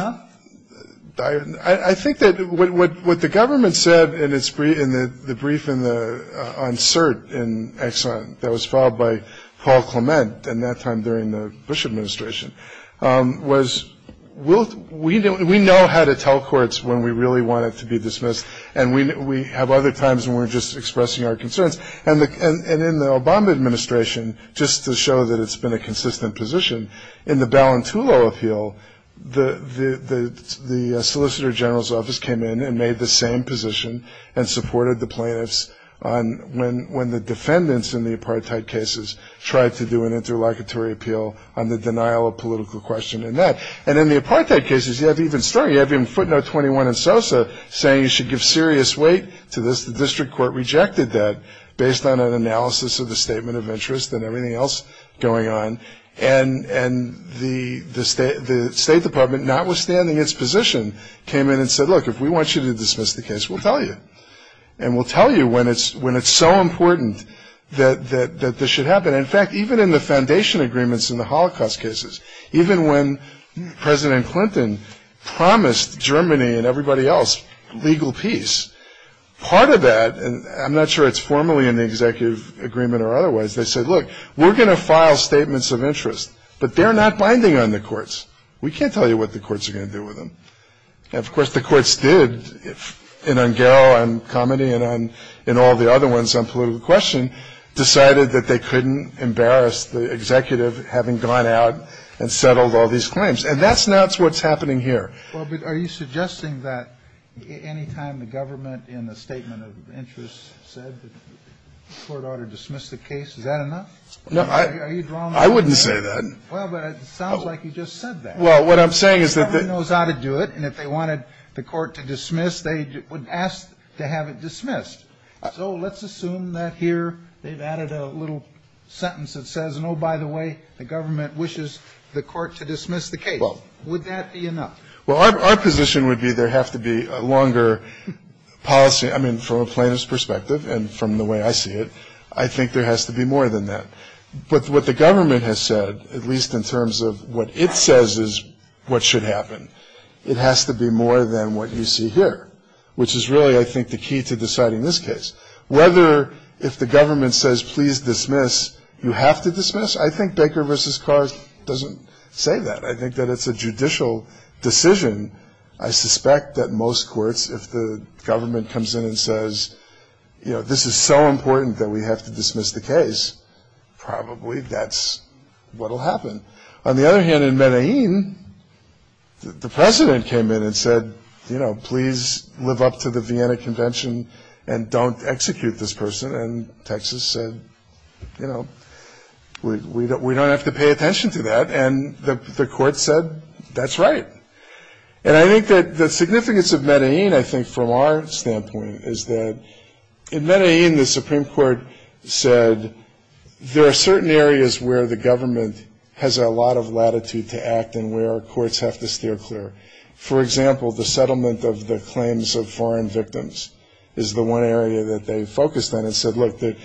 I think that what the government said in its brief in the brief in the insert in Exxon, that was followed by Paul Clement and that time during the Bush administration was, will we know how to tell courts when we really want it to be dismissed? And we have other times when we're just expressing our concerns. And in the Obama administration, just to show that it's been a consistent position in the Ballantulo appeal, the the the solicitor general's office came in and made the same position and supported the plaintiffs. And when when the defendants in the apartheid cases tried to do an interlocutory appeal on the denial of political question in that. And in the apartheid cases, you have even started having footnote 21 and Sosa saying you should give serious weight to this. The district court rejected that based on an analysis of the statement of interest and everything else going on. And and the the state the State Department, notwithstanding its position, came in and said, look, if we want you to dismiss the case, we'll tell you. And we'll tell you when it's when it's so important that that that this should happen. In fact, even in the foundation agreements in the Holocaust cases, even when President Clinton promised Germany and everybody else legal peace, part of that. And I'm not sure it's formally in the executive agreement or otherwise. They said, look, we're going to file statements of interest, but they're not binding on the courts. We can't tell you what the courts are going to do with them. Of course, the courts did. And comedy and in all the other ones on political question decided that they couldn't embarrass the executive having gone out and settled all these claims. And that's not what's happening here. Are you suggesting that any time the government in the statement of interest said the court ought to dismiss the case? Is that enough? I wouldn't say that. Well, it sounds like you just said that. What I'm saying is that it knows how to do it. And if they wanted the court to dismiss, they would ask to have it dismissed. So let's assume that here they've added a little sentence that says, no, by the way, the government wishes the court to dismiss the case. Would that be enough? Well, our position would be there have to be a longer policy. I mean, from a plaintiff's perspective and from the way I see it, I think there has to be more than that. But what the government has said, at least in terms of what it says is what should happen. It has to be more than what you see here, which is really, I think, the key to deciding this case. Whether if the government says, please dismiss, you have to dismiss. I think Baker versus Carr doesn't say that. I think that it's a judicial decision. I suspect that most courts, if the government comes in and says, you know, this is so important that we have to dismiss the case. Probably that's what will happen. On the other hand, in Medellin, the president came in and said, you know, please live up to the Vienna Convention and don't execute this person. And Texas said, you know, we don't have to pay attention to that. And the court said, that's right. And I think that the significance of Medellin, I think, from our standpoint is that in Medellin, the Supreme Court said there are certain areas where the government has a lot of latitude to act and where courts have to steer clear. For example, the settlement of the claims of foreign victims is the one area that they focused on and said, look, the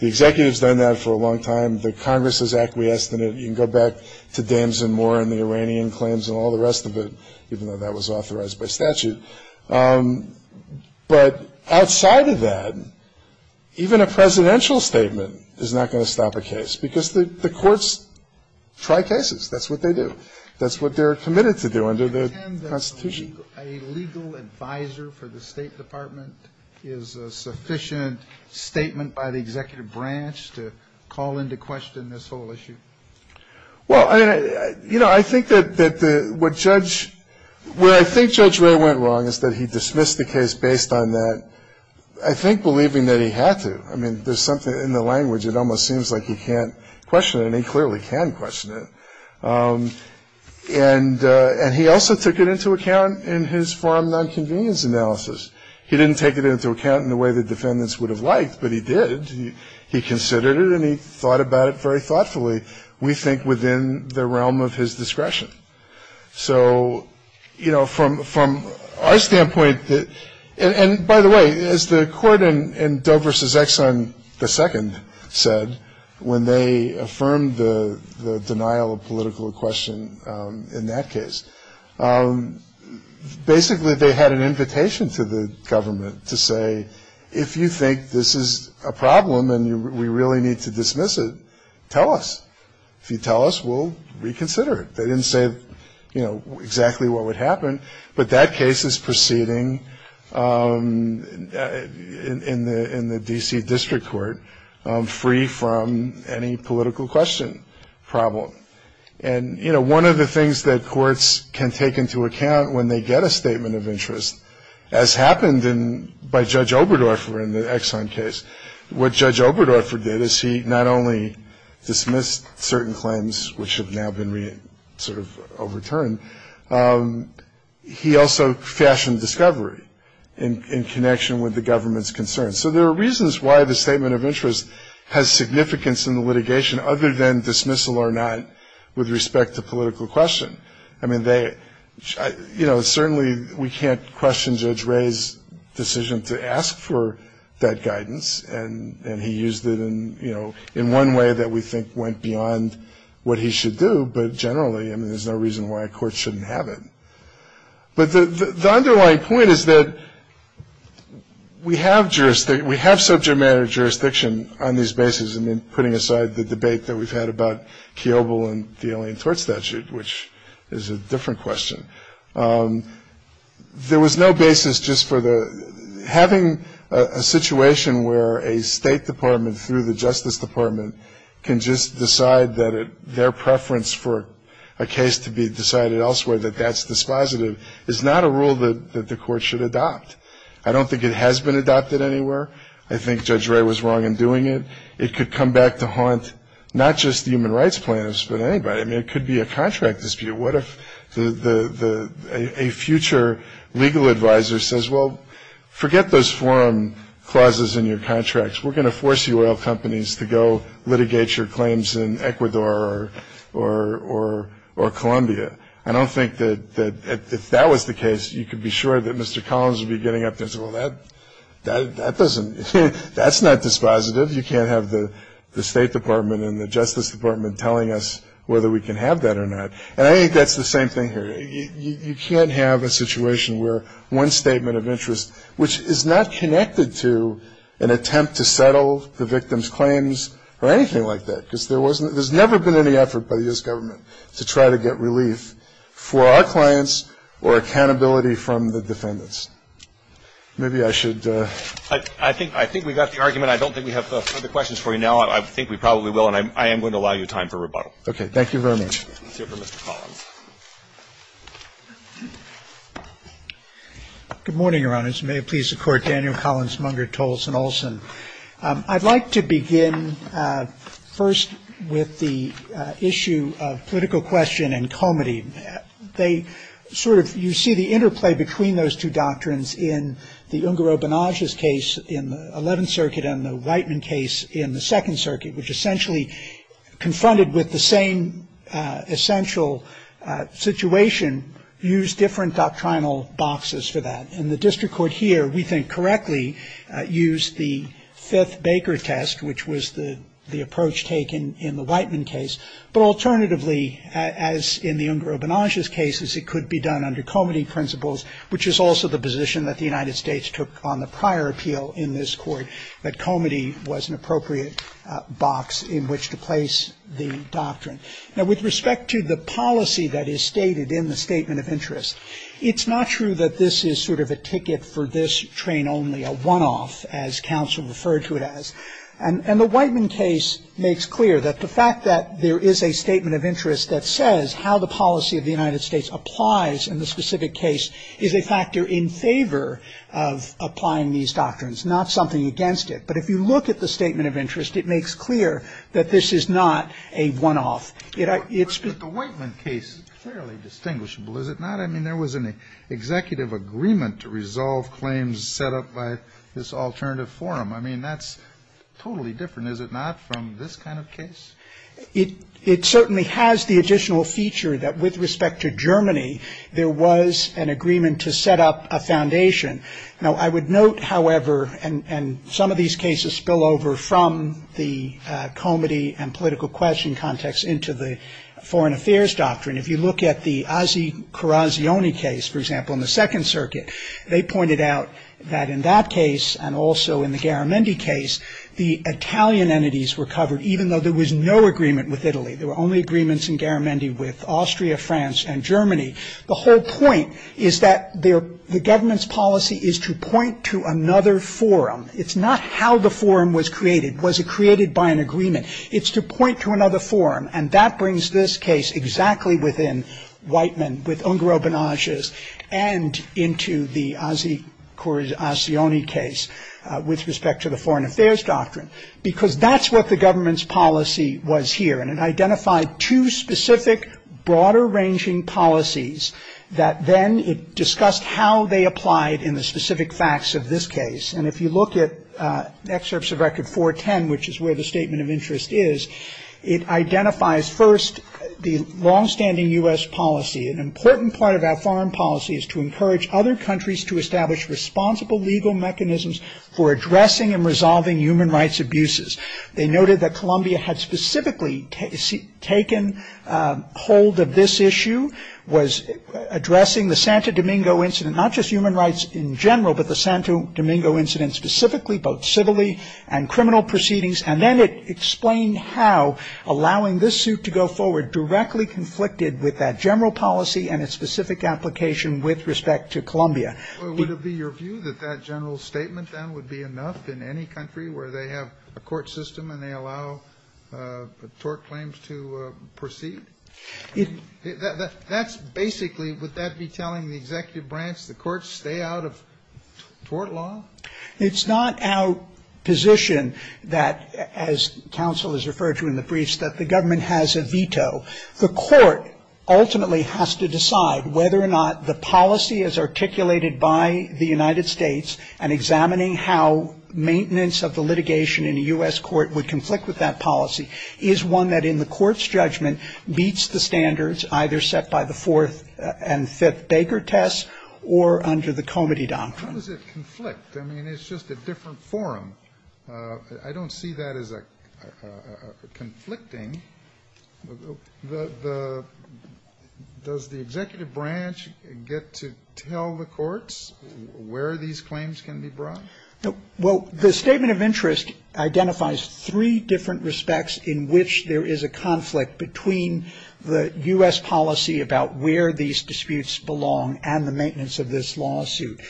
executive's done that for a long time. The Congress has acquiesced in it. You can go back to Danzin Moore and the Iranian claims and all the rest of it, even though that was authorized by statute. But outside of that, even a presidential statement is not going to stop a case because the courts try cases. That's what they do. That's what they're committed to do under the Constitution. Do you think a legal advisor for the State Department is a sufficient statement by the executive branch to call into question this whole issue? Well, you know, I think that what Judge Ray went wrong is that he dismissed the case based on that, I think, believing that he had to. I mean, there's something in the language that almost seems like he can't question it, and he clearly can question it. And he also took it into account in his foreign nonconvenience analysis. He didn't take it into account in the way the defendants would have liked, but he did. He considered it and he thought about it very thoughtfully, we think, within the realm of his discretion. So, you know, from our standpoint, and by the way, as the court in Doe versus Exxon, the second said when they affirmed the denial of political question in that case, basically they had an invitation to the government to say, if you think this is a problem and we really need to dismiss it, tell us. If you tell us, we'll reconsider it. They didn't say, you know, exactly what would happen, but that case is proceeding in the D.C. District Court free from any political question problem. And, you know, one of the things that courts can take into account when they get a statement of interest, as happened by Judge Oberdorfer in the Exxon case, what Judge Oberdorfer did is he not only dismissed certain claims, which have now been sort of overturned, he also fashioned discovery in connection with the government's concerns. So there are reasons why the statement of interest has significance in the litigation other than dismissal or not with respect to political question. I mean, they, you know, certainly we can't question Judge Ray's decision to ask for that guidance, and he used it in, you know, in one way that we think went beyond what he should do, but generally, I mean, there's no reason why a court shouldn't have it. But the underlying point is that we have jurisdiction, we have subject matter jurisdiction on these bases, and then putting aside the debate that we've had about Theobald and the Alien Tort Statute, which is a different question. There was no basis just for the ‑‑ having a situation where a State Department through the Justice Department can just decide that their preference for a case to be decided elsewhere, that that's dispositive, is not a rule that the court should adopt. I don't think it has been adopted anywhere. I think Judge Ray was wrong in doing it. It could come back to haunt not just human rights plans, but anybody. I mean, it could be a contract dispute. What if a future legal advisor says, well, forget those forum clauses in your contracts. We're going to force you oil companies to go litigate your claims in Ecuador or Colombia. I don't think that if that was the case, you could be sure that Mr. Collins would be getting up and saying, well, that doesn't ‑‑ we don't have to have the State Department and the Justice Department telling us whether we can have that or not. And I think that's the same thing here. You can't have a situation where one statement of interest, which is not connected to an attempt to settle the victim's claims or anything like that, because there's never been any effort by this government to try to get relief for our clients or accountability from the defendants. Maybe I should ‑‑ I think we've got the argument. I don't think we have further questions for you now. I think we probably will. And I am going to allow you time for rebuttal. Okay. Thank you very much. Good morning, Your Honors. May it please the Court, Daniel Collins, Munger, Tolson, Olson. I'd like to begin first with the issue of political question and comity. They sort of ‑‑ you see the interplay between those two doctrines in the Ungaro-Bonage's case in the 11th Circuit and the Whiteman case in the 2nd Circuit, which essentially confronted with the same essential situation, used different doctrinal boxes for that. And the district court here, we think, correctly used the fifth Baker test, which was the approach taken in the Whiteman case. But alternatively, as in the Ungaro-Bonage's cases, it could be done under comity principles, which is also the position that the United States took on the prior appeal in this court, that comity was an appropriate box in which to place the doctrine. Now, with respect to the policy that is stated in the Statement of Interest, it's not true that this is sort of a ticket for this train only, a one‑off, as counsel referred to it as. And the Whiteman case makes clear that the fact that there is a Statement of Interest that says how the policy of the United States applies in the specific case is a factor in favor of applying these doctrines, not something against it. But if you look at the Statement of Interest, it makes clear that this is not a one‑off. The Whiteman case is fairly distinguishable, is it not? I mean, there was an executive agreement to resolve claims set up by this alternative forum. I mean, that's totally different, is it not, from this kind of case? It certainly has the additional feature that, with respect to Germany, there was an agreement to set up a foundation. Now, I would note, however, and some of these cases spill over from the comity and political question context into the foreign affairs doctrine. If you look at the Ossie Carrazioni case, for example, in the Second Circuit, they pointed out that in that case and also in the Garamendi case, the Italian entities were covered, even though there was no agreement with Italy. There were only agreements in Garamendi with Austria, France, and Germany. The whole point is that the government's policy is to point to another forum. It's not how the forum was created. Was it created by an agreement? It's to point to another forum, and that brings this case exactly within Whiteman, with Ungaro-Banaghes, and into the Ossie Carrazioni case with respect to the foreign affairs doctrine, because that's what the government's policy was here, and it identified two specific, broader-ranging policies that then discussed how they applied in the specific facts of this case. And if you look at excerpts of Record 410, which is where the statement of interest is, it identifies first the longstanding U.S. policy. An important part of that foreign policy is to encourage other countries to establish responsible legal mechanisms for addressing and resolving human rights abuses. They noted that Colombia had specifically taken hold of this issue, was addressing the Santo Domingo incident, not just human rights in general, but the Santo Domingo incident specifically, both civilly and criminal proceedings, and then it explained how allowing this suit to go forward directly conflicted with that general policy and its specific application with respect to Colombia. Well, would it be your view that that general statement, then, would be enough in any country where they have a court system and they allow tort claims to proceed? That's basically, would that be telling the executive branch, the courts, stay out of tort law? It's not our position that, as counsel has referred to in the briefs, that the government has a veto. The court ultimately has to decide whether or not the policy is articulated by the United States and examining how maintenance of the litigation in a U.S. court would conflict with that policy is one that in the court's judgment beats the standards either set by the fourth and fifth Baker tests or under the Comity doctrine. How does it conflict? I mean, it's just a different forum. I don't see that as conflicting. Does the executive branch get to tell the courts where these claims can be brought? Well, the statement of interest identifies three different respects in which there is a conflict between the U.S. policy about where these disputes belong and the maintenance of this lawsuit.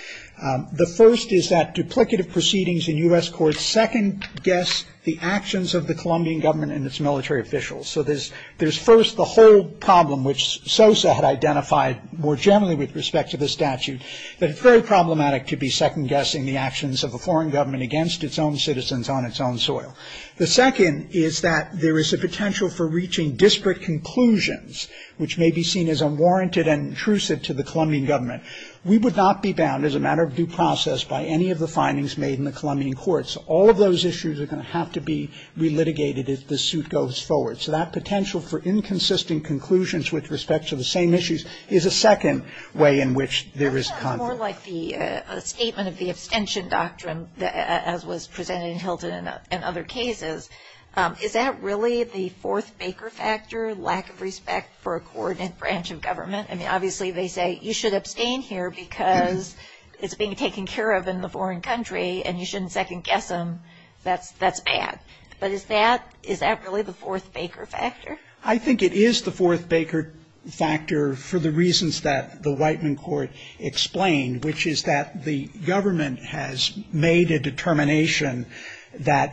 The first is that duplicative proceedings in U.S. courts second-guess the actions of the Colombian government and its military officials. So there's first the whole problem, which Sosa had identified more generally with respect to the statute, that it's very problematic to be second-guessing the actions of a foreign government against its own citizens on its own soil. The second is that there is a potential for reaching district conclusions, which may be seen as unwarranted and intrusive to the Colombian government. We would not be bound as a matter of due process by any of the findings made in the Colombian courts. All of those issues are going to have to be re-litigated if the suit goes forward. So that potential for inconsistent conclusions with respect to the same issues is a second way in which there is conflict. More like a statement of the abstention doctrine as was presented in Hilton and other cases. Is that really the fourth baker factor, lack of respect for a coordinate branch of government? I mean, obviously they say you should abstain here because it's being taken care of in the foreign country and you shouldn't second-guess them. That's bad. But is that really the fourth baker factor? I think it is the fourth baker factor for the reasons that the Whiteman court explained, which is that the government has made a determination that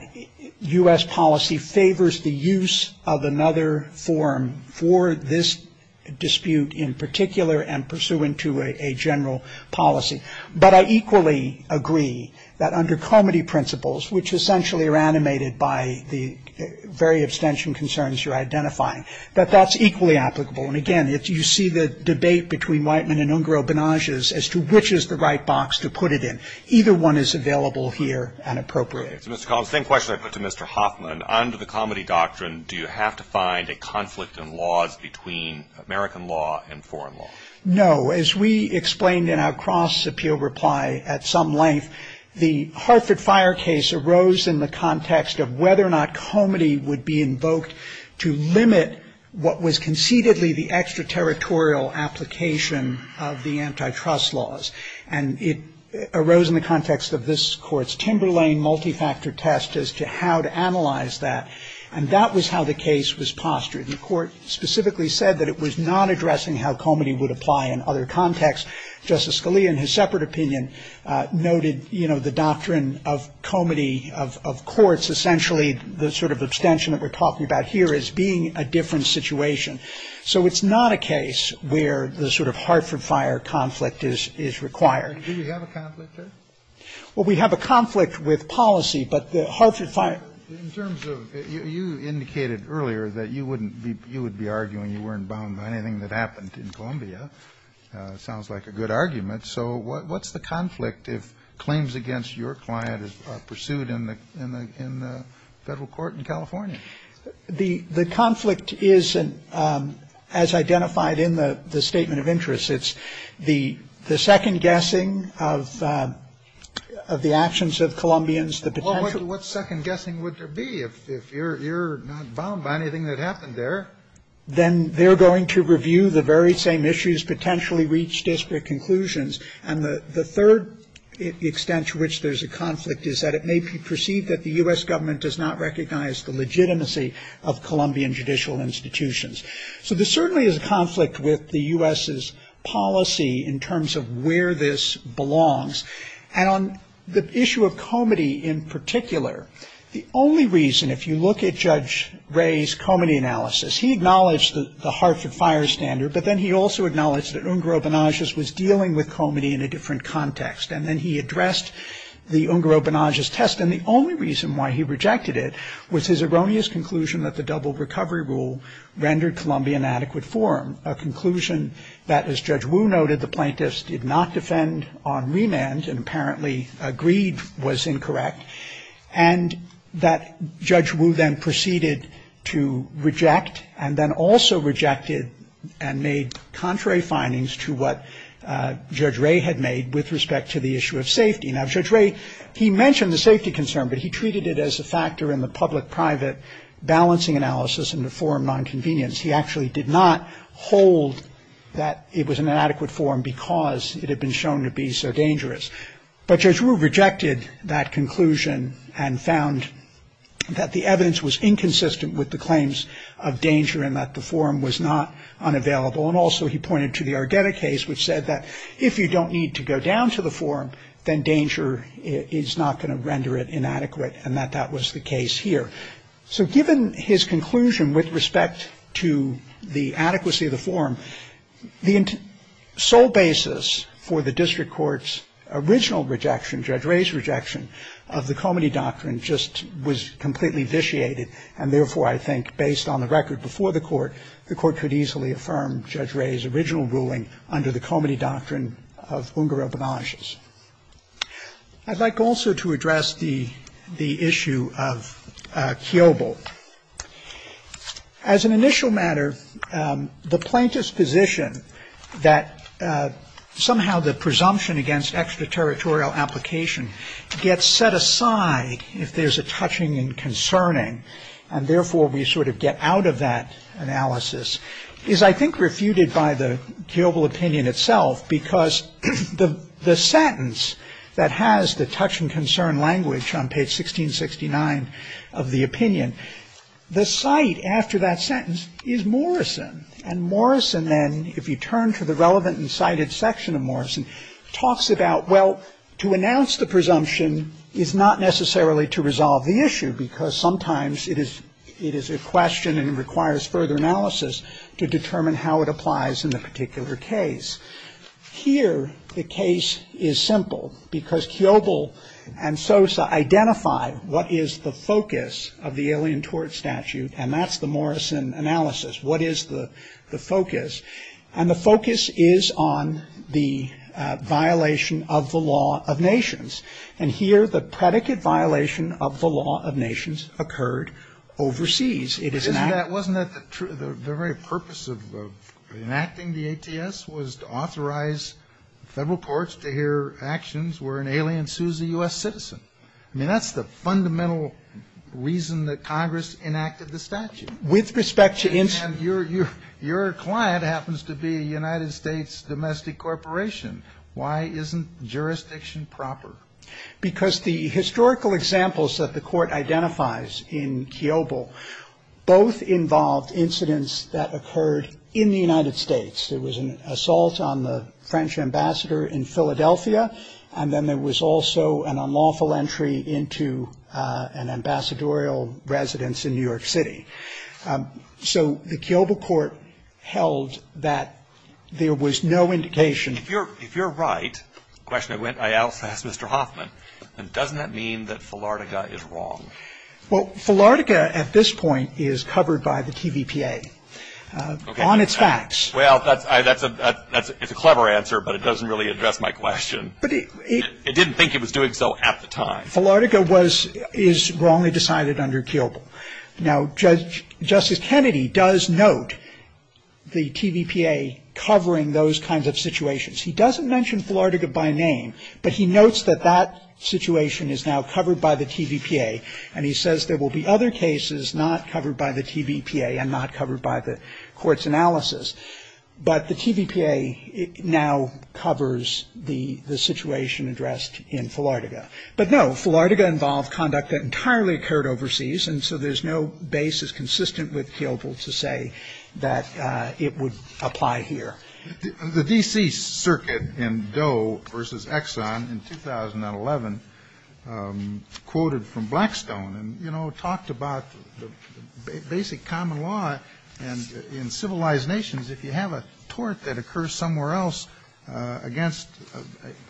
U.S. policy favors the use of another form for this dispute in particular and pursuant to a general policy. But I equally agree that under comity principles, which essentially are animated by the very abstention concerns you're identifying, that that's equally applicable. And again, if you see the debate between Whiteman and Ungro-Ganage as to which is the right box to put it in, either one is available here and appropriate. Mr. Collins, same question I put to Mr. Hoffman. Under the comity doctrine, do you have to find a conflict in laws between American law and foreign law? No. As we explained in our cross-appeal reply at some length, the Hartford Fire case arose in the context of whether or not comity would be invoked to limit what was concededly the extraterritorial application of the antitrust laws. And it arose in the context of this court's Timberlane multi-factor test as to how to analyze that. And that was how the case was postured. And the court specifically said that it was not addressing how comity would apply in other contexts. Justice Scalia, in his separate opinion, noted the doctrine of comity of courts, essentially the sort of extension that we're talking about here is being a different situation. So it's not a case where the sort of Hartford Fire conflict is required. Do you have a conflict there? Well, we have a conflict with policy, but the Hartford Fire- In terms of, you indicated earlier that you wouldn't be, you would be arguing you weren't bound by anything that happened in Columbia. Sounds like a good argument. So what's the conflict if claims against your client are pursued in the federal court in California? The conflict is, as identified in the statement of interest, it's the second guessing of the actions of Columbians. What second guessing would there be if you're not bound by anything that happened there? Then they're going to review the very same issues, potentially reach disparate conclusions. And the third extent to which there's a conflict is that it may be perceived that the U.S. government does not recognize the legitimacy of Columbian judicial institutions. So there certainly is a conflict with the U.S.'s policy in terms of where this belongs. And on the issue of comity in particular, the only reason, if you look at Judge Ray's comity analysis, he acknowledged the Hartford Fire standard, but then he also acknowledged that Ungaro-Bonagas was dealing with comity in a different context. And then he addressed the Ungaro-Bonagas test. And the only reason why he rejected it was his erroneous conclusion that the double recovery rule rendered Columbian adequate form, a conclusion that, as Judge Wu noted, the plaintiffs did not defend on remand and apparently agreed was incorrect, and that Judge Wu then proceeded to reject and then also rejected and made contrary findings to what Judge Ray had made with respect to the issue of safety. Now, Judge Ray, he mentioned the safety concern, but he treated it as a factor in the public-private balancing analysis and the forum nonconvenience. He actually did not hold that it was an inadequate form because it had been shown to be so dangerous. But Judge Wu rejected that conclusion and found that the evidence was inconsistent with the claims of danger and that the forum was not unavailable. And also he pointed to the Ardetta case, which said that if you don't need to go down to the forum, then danger is not going to render it inadequate and that that was the case here. So given his conclusion with respect to the adequacy of the forum, the sole basis for the district court's original rejection, Judge Ray's rejection, of the Comity Doctrine just was completely vitiated, and therefore I think based on the record before the court, the court could easily affirm Judge Ray's original ruling under the Comity Doctrine of Ungaro-Badanges. I'd like also to address the issue of Kiobel. As an initial matter, the plaintiff's position that somehow the presumption against extraterritorial application gets set aside if there's a touching and concerning, and therefore we sort of get out of that analysis, is I think refuted by the Kiobel opinion itself because the sentence that has the touch and concern language on page 1669 of the opinion, the site after that sentence is Morrison. And Morrison then, if you turn to the relevant and cited section of Morrison, talks about, well, to announce the presumption is not necessarily to resolve the issue because sometimes it is a question and requires further analysis to determine how it applies in the particular case. Here, the case is simple because Kiobel and Sosa identified what is the focus of the Alien Tort Statute, and that's the Morrison analysis. What is the focus? And the focus is on the violation of the law of nations, and here the predicate violation of the law of nations occurred overseas. Wasn't that the very purpose of enacting the ATS was to authorize federal courts to hear actions where an alien sues a U.S. citizen? I mean, that's the fundamental reason that Congress enacted the statute. With respect to... And your client happens to be a United States domestic corporation. Why isn't jurisdiction proper? Because the historical examples that the court identifies in Kiobel both involved incidents that occurred in the United States. There was an assault on the French ambassador in Philadelphia, and then there was also an unlawful entry into an ambassadorial residence in New York City. So the Kiobel court held that there was no indication... If you're right, the question I asked Mr. Hoffman, then doesn't that mean that Philardega is wrong? Well, Philardega at this point is covered by the TVPA on its facts. Well, that's a clever answer, but it doesn't really address my question. I didn't think it was doing so at the time. Philardega is wrongly decided under Kiobel. Now, Justice Kennedy does note the TVPA covering those kinds of situations. He doesn't mention Philardega by name, but he notes that that situation is now covered by the TVPA, and he says there will be other cases not covered by the TVPA and not covered by the court's analysis. But the TVPA now covers the situation addressed in Philardega. But no, Philardega involved conduct that entirely occurred overseas, and so there's no basis consistent with Kiobel to say that it would apply here. The D.C. Circuit in Doe versus Exxon in 2011 quoted from Blackstone and, you know, talked about the basic common law in civilized nations. If you have a tort that occurs somewhere else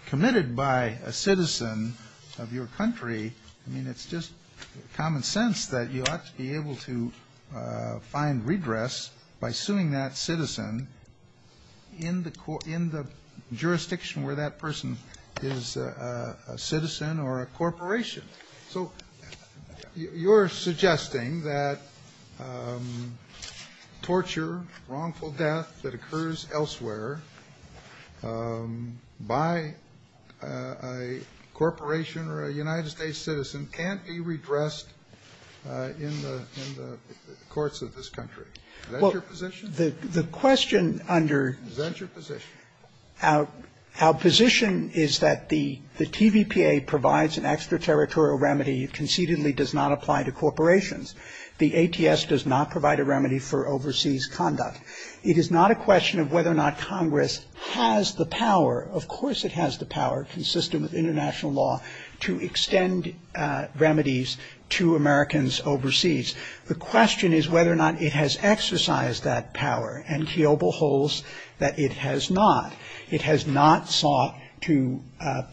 committed by a citizen of your country, I mean, it's just common sense that you have to be able to find redress by suing that citizen in the jurisdiction where that person is a citizen or a corporation. So you're suggesting that torture, wrongful death that occurs elsewhere by a corporation or a United States citizen can't be redressed in the courts of this country. Is that your position? The question under our position is that the TVPA provides an extraterritorial remedy it concededly does not apply to corporations. The ATS does not provide a remedy for overseas conduct. It is not a question of whether or not Congress has the power. Of course it has the power, consistent with international law, to extend remedies to Americans overseas. The question is whether or not it has exercised that power. And Kiobel holds that it has not. It has not sought to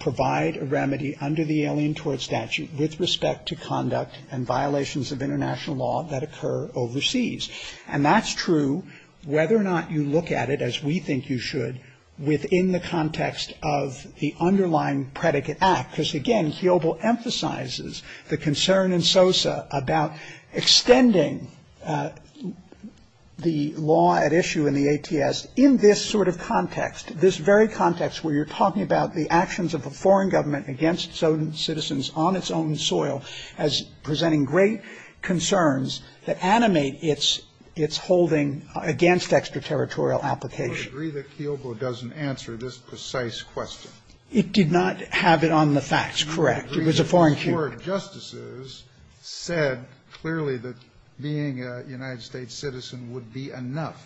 provide a remedy under the Alien Tort Statute with respect to conduct and violations of international law that occur overseas. And that's true whether or not you look at it as we think you should within the context of the underlying predicate act. Because again, Kiobel emphasizes the concern in SOSA about extending the law at issue in the ATS in this sort of context, this very context where you're talking about the actions of a foreign government against its own citizens on its own soil as presenting great concerns that animate its holding against extraterritorial application. I agree that Kiobel doesn't answer this precise question. It did not have it on the facts. Correct. It was a foreign case. Four justices said clearly that being a United States citizen would be enough.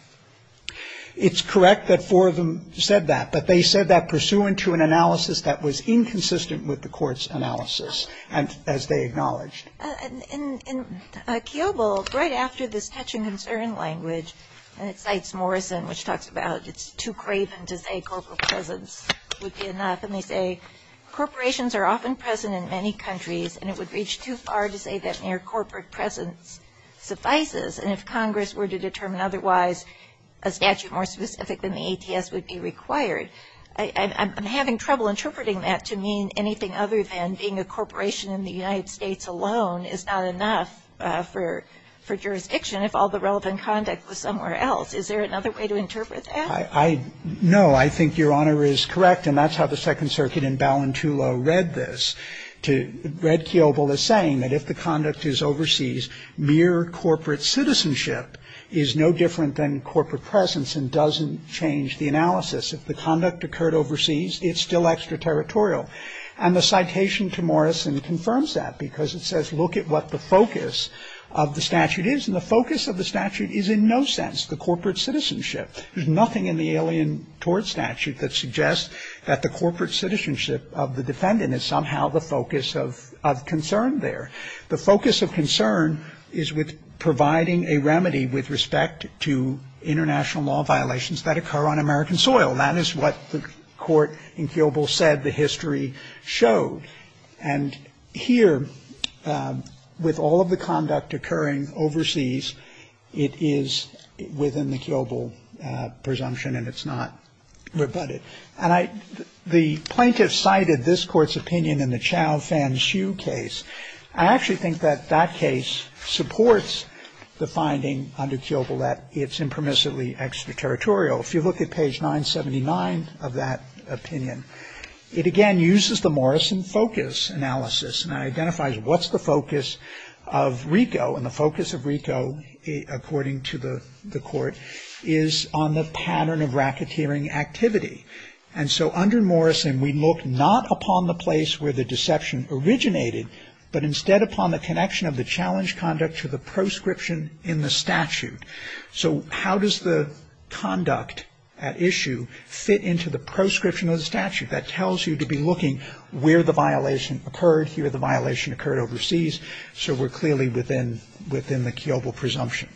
It's correct that four of them said that. But they said that pursuant to an analysis that was inconsistent with the court's analysis, as they acknowledge. And Kiobel, right after this touching concern language, cites Morrison, which talks about it's too craven to say corporate presence would be enough. And they say, corporations are often present in many countries, and it would reach too far to say that mere corporate presence suffices. And if Congress were to determine otherwise, a statute more specific than the ATS would be required. I'm having trouble interpreting that to mean anything other than being a corporation in the United States alone is not enough for jurisdiction if all the relevant conduct was somewhere else. Is there another way to interpret that? No. I think Your Honor is correct, and that's how the Second Circuit in Balintulo read this. Red Kiobel is saying that if the conduct is overseas, mere corporate citizenship is no different than corporate presence and doesn't change the analysis. If the conduct occurred overseas, it's still extraterritorial. And the citation to Morrison confirms that, because it says look at what the focus of the statute is. And the focus of the statute is in no sense the corporate citizenship. There's nothing in the Alien Tort Statute that suggests that the corporate citizenship of the defendant is somehow the focus of concern there. The focus of concern is with providing a remedy with respect to international law violations that occur on American soil. That is what the court in Kiobel said the history showed. And here, with all of the conduct occurring overseas, it is within the Kiobel presumption, and it's not rebutted. And the plaintiff cited this court's opinion in the Chow-Fan-Hsu case. I actually think that that case supports the finding under Kiobel that it's impermissibly extraterritorial. If you look at page 979 of that opinion, it again uses the Morrison focus analysis and identifies what's the focus of RICO. And the focus of RICO, according to the court, is on the pattern of racketeering activity. And so under Morrison, we look not upon the place where the deception originated, but instead upon the connection of the challenge conduct to the proscription in the statute. So how does the conduct at issue fit into the proscription of the statute? That tells you to be looking where the violation occurred, here the violation occurred overseas, so we're clearly within the Kiobel presumption.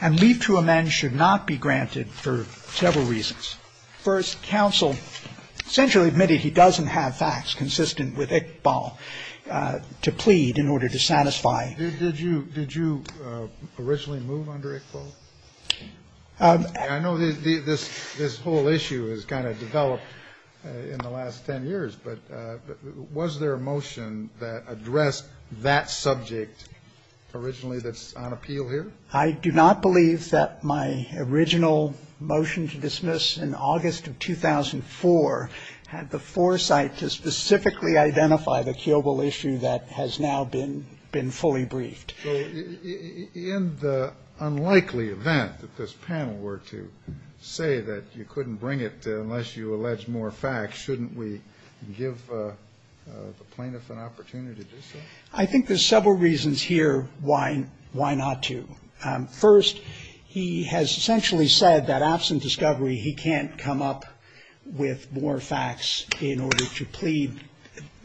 And leave to amend should not be granted for several reasons. First, counsel essentially admitted he doesn't have facts consistent with Iqbal to plead in order to satisfy. Did you originally move under Iqbal? I know this whole issue has kind of developed in the last ten years, but was there a motion that addressed that subject originally that's on appeal here? I do not believe that my original motion to dismiss in August of 2004 had the foresight to specifically identify the Kiobel issue that has now been fully briefed. In the unlikely event that this panel were to say that you couldn't bring it unless you allege more facts, shouldn't we give the plaintiff an opportunity to say? I think there's several reasons here why not to. First, he has essentially said that absent discovery, he can't come up with more facts in order to plead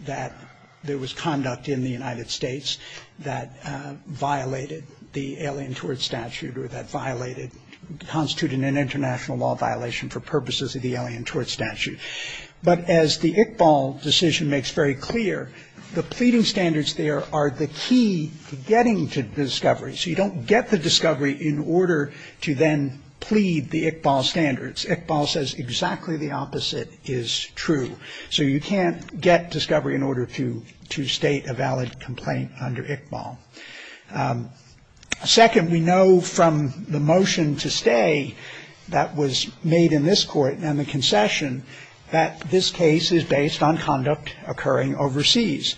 that there was conduct in the United States that violated the Alien Tort Statute or that violated, constituted an international law violation for purposes of the Alien Tort Statute. But as the Iqbal decision makes very clear, the pleading standards there are the key to getting to discovery, so you don't get the discovery in order to then plead the Iqbal standards. Iqbal says exactly the opposite is true, so you can't get discovery in order to state a valid complaint under Iqbal. Second, we know from the motion to stay that was made in this court and the concession that this case is based on conduct occurring overseas.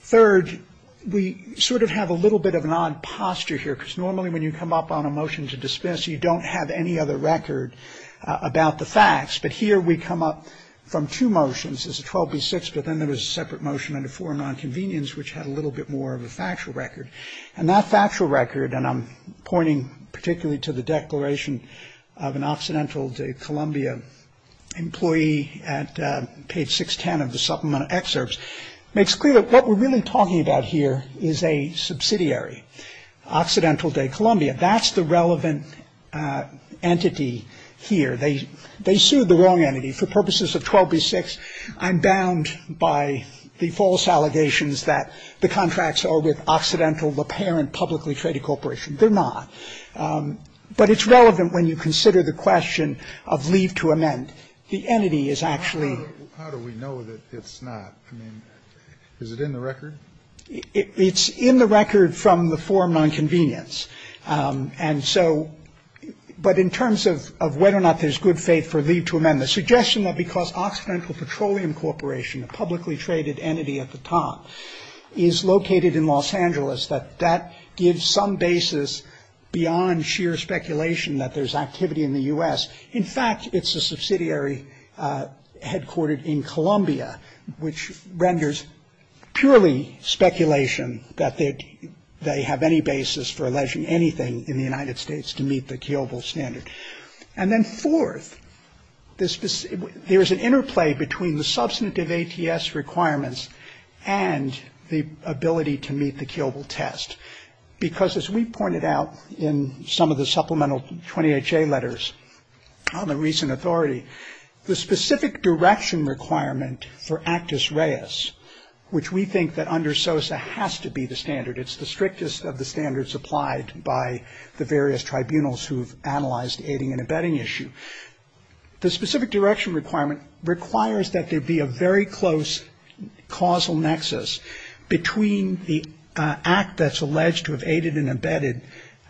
Third, we sort of have a little bit of an odd posture here, because normally when you come up on a motion to dismiss, you don't have any other record about the facts. But here we come up from two motions. There's a 12B6, but then there's a separate motion under 4 nonconvenience, which had a little bit more of a factual record. And that factual record, and I'm pointing particularly to the declaration of an Occidental Columbia employee at page 610 of the supplemental excerpts, makes clear that what we're really talking about here is a subsidiary, Occidental Day Columbia. That's the relevant entity here. They sued the wrong entity for purposes of 12B6. I'm bound by the false allegations that the contracts are with Occidental, the parent publicly traded corporation. They're not. But it's relevant when you consider the question of leave to amend. How do we know that it's not? I mean, is it in the record? It's in the record from the 4 nonconvenience. But in terms of whether or not there's good faith for leave to amend, the suggestion that because Occidental Petroleum Corporation, a publicly traded entity at the top, is located in Los Angeles, that that gives some basis beyond sheer speculation that there's activity in the U.S. In fact, it's a subsidiary headquartered in Columbia, which renders purely speculation that they have any basis for alleging anything in the United States to meet the killable standard. And then fourth, there's an interplay between the substantive ATS requirements and the ability to meet the killable test. Because as we pointed out in some of the supplemental 28J letters on the recent authority, the specific direction requirement for Actus Reis, which we think that under SOSA has to be the standard. It's the strictest of the standards applied by the various tribunals who've analyzed the aiding and abetting issue. The specific direction requirement requires that there be a very close causal nexus between the act that's alleged to have aided and abetted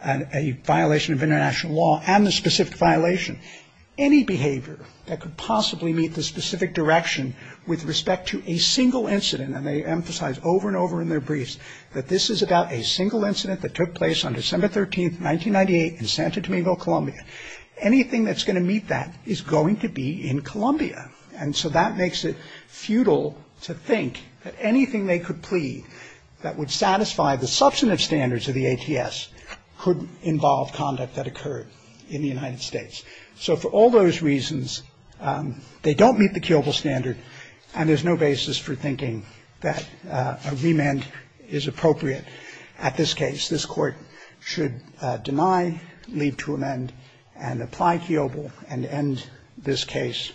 a violation of international law and the specific violation. Any behavior that could possibly meet the specific direction with respect to a single incident, and they emphasize over and over in their briefs that this is about a single incident that took place on December 13th, 1998 in Santo Domingo, Colombia. Anything that's going to meet that is going to be in Columbia. And so that makes it futile to think that anything they could plead that would satisfy the substantive standards of the ATS could involve conduct that occurred in the United States. So for all those reasons, they don't meet the killable standard and there's no basis for thinking that a remand is appropriate. At this case, this court should deny, leave to amend, and apply killable and end this case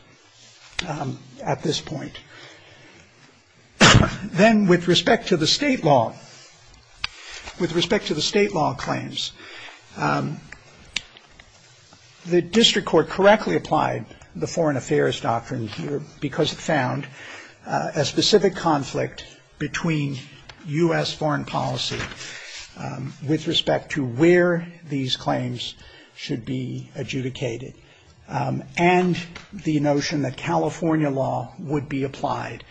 at this point. Then with respect to the state law, with respect to the state law claims, the district court correctly applied the Foreign Affairs Doctrine because it found a specific conflict between U.S. foreign policy with respect to where these claims should be adjudicated. And the notion that California law would be applied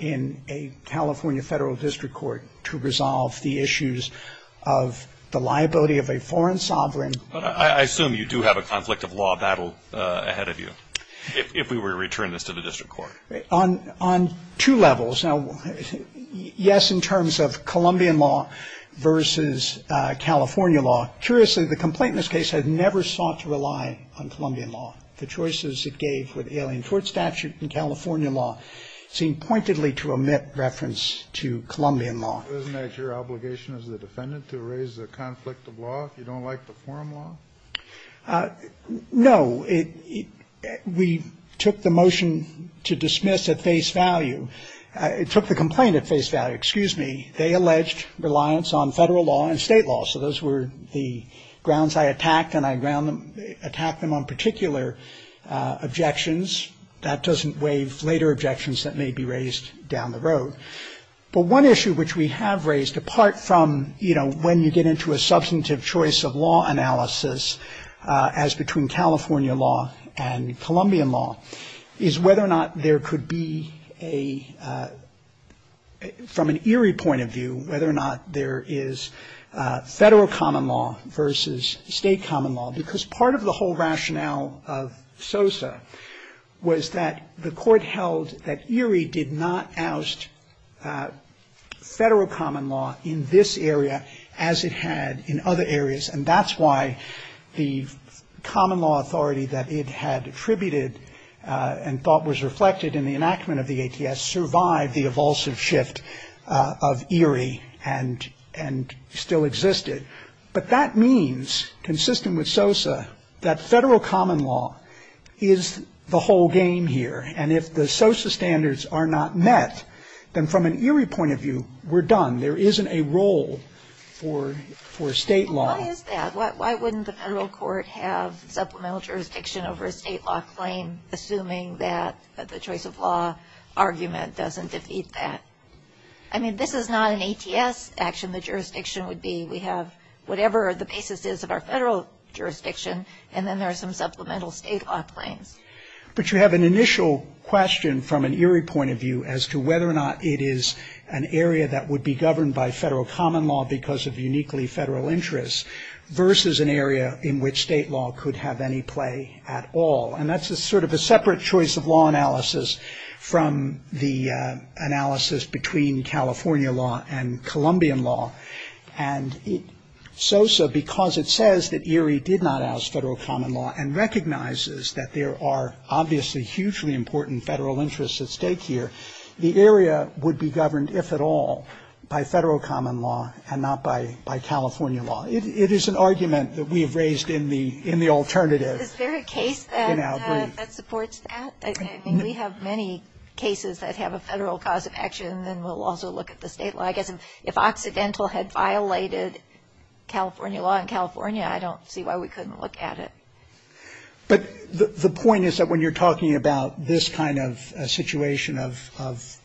in a California federal district court to resolve the issues of the liability of a foreign sovereign. But I assume you do have a conflict of law battle ahead of you if we were to return this to the district court. On two levels. Now, yes, in terms of Colombian law versus California law. Curiously, the complaint in this case had never sought to rely on Colombian law. The choices it gave for the Alien Tort Statute and California law seemed pointedly to omit reference to Colombian law. Isn't that your obligation as a defendant to raise the conflict of law if you don't like the foreign law? No. We took the motion to dismiss at face value. It took the complaint at face value. Excuse me. They alleged reliance on federal law and state law. So those were the grounds I attacked and I attacked them on particular objections. That doesn't waive later objections that may be raised down the road. But one issue which we have raised, apart from, you know, when you get into a substantive choice of law analysis as between California law and Colombian law, is whether or not there could be a, from an ERIE point of view, whether or not there is federal common law versus state common law. Because part of the whole rationale of SOSA was that the court held that ERIE did not oust federal common law in this area as it had in other areas. And that's why the common law authority that it had attributed and thought was reflected in the enactment of the ATS survived the evulsive shift of ERIE and still existed. But that means, consistent with SOSA, that federal common law is the whole game here. And if the SOSA standards are not met, then from an ERIE point of view, we're done. There isn't a role for state law. Why is that? Why wouldn't the federal court have supplemental jurisdiction over a state law claim assuming that the choice of law argument doesn't defeat that? I mean, this is not an ATS action. The jurisdiction would be we have whatever the basis is of our federal jurisdiction and then there are some supplemental state law claims. But you have an initial question from an ERIE point of view as to whether or not it is an area that would be governed by federal common law because of uniquely federal interests versus an area in which state law could have any play at all. And that's sort of a separate choice of law analysis from the analysis between California law and Colombian law. And SOSA, because it says that ERIE did not oust federal common law and recognizes that there are obviously hugely important federal interests at stake here, the area would be governed, if at all, by federal common law and not by California law. It is an argument that we have raised in the alternative. Is there a case that supports that? We have many cases that have a federal cause of action and then we'll also look at the state law. I guess if Occidental had violated California law in California, I don't see why we couldn't look at it. But the point is that when you're talking about this kind of situation of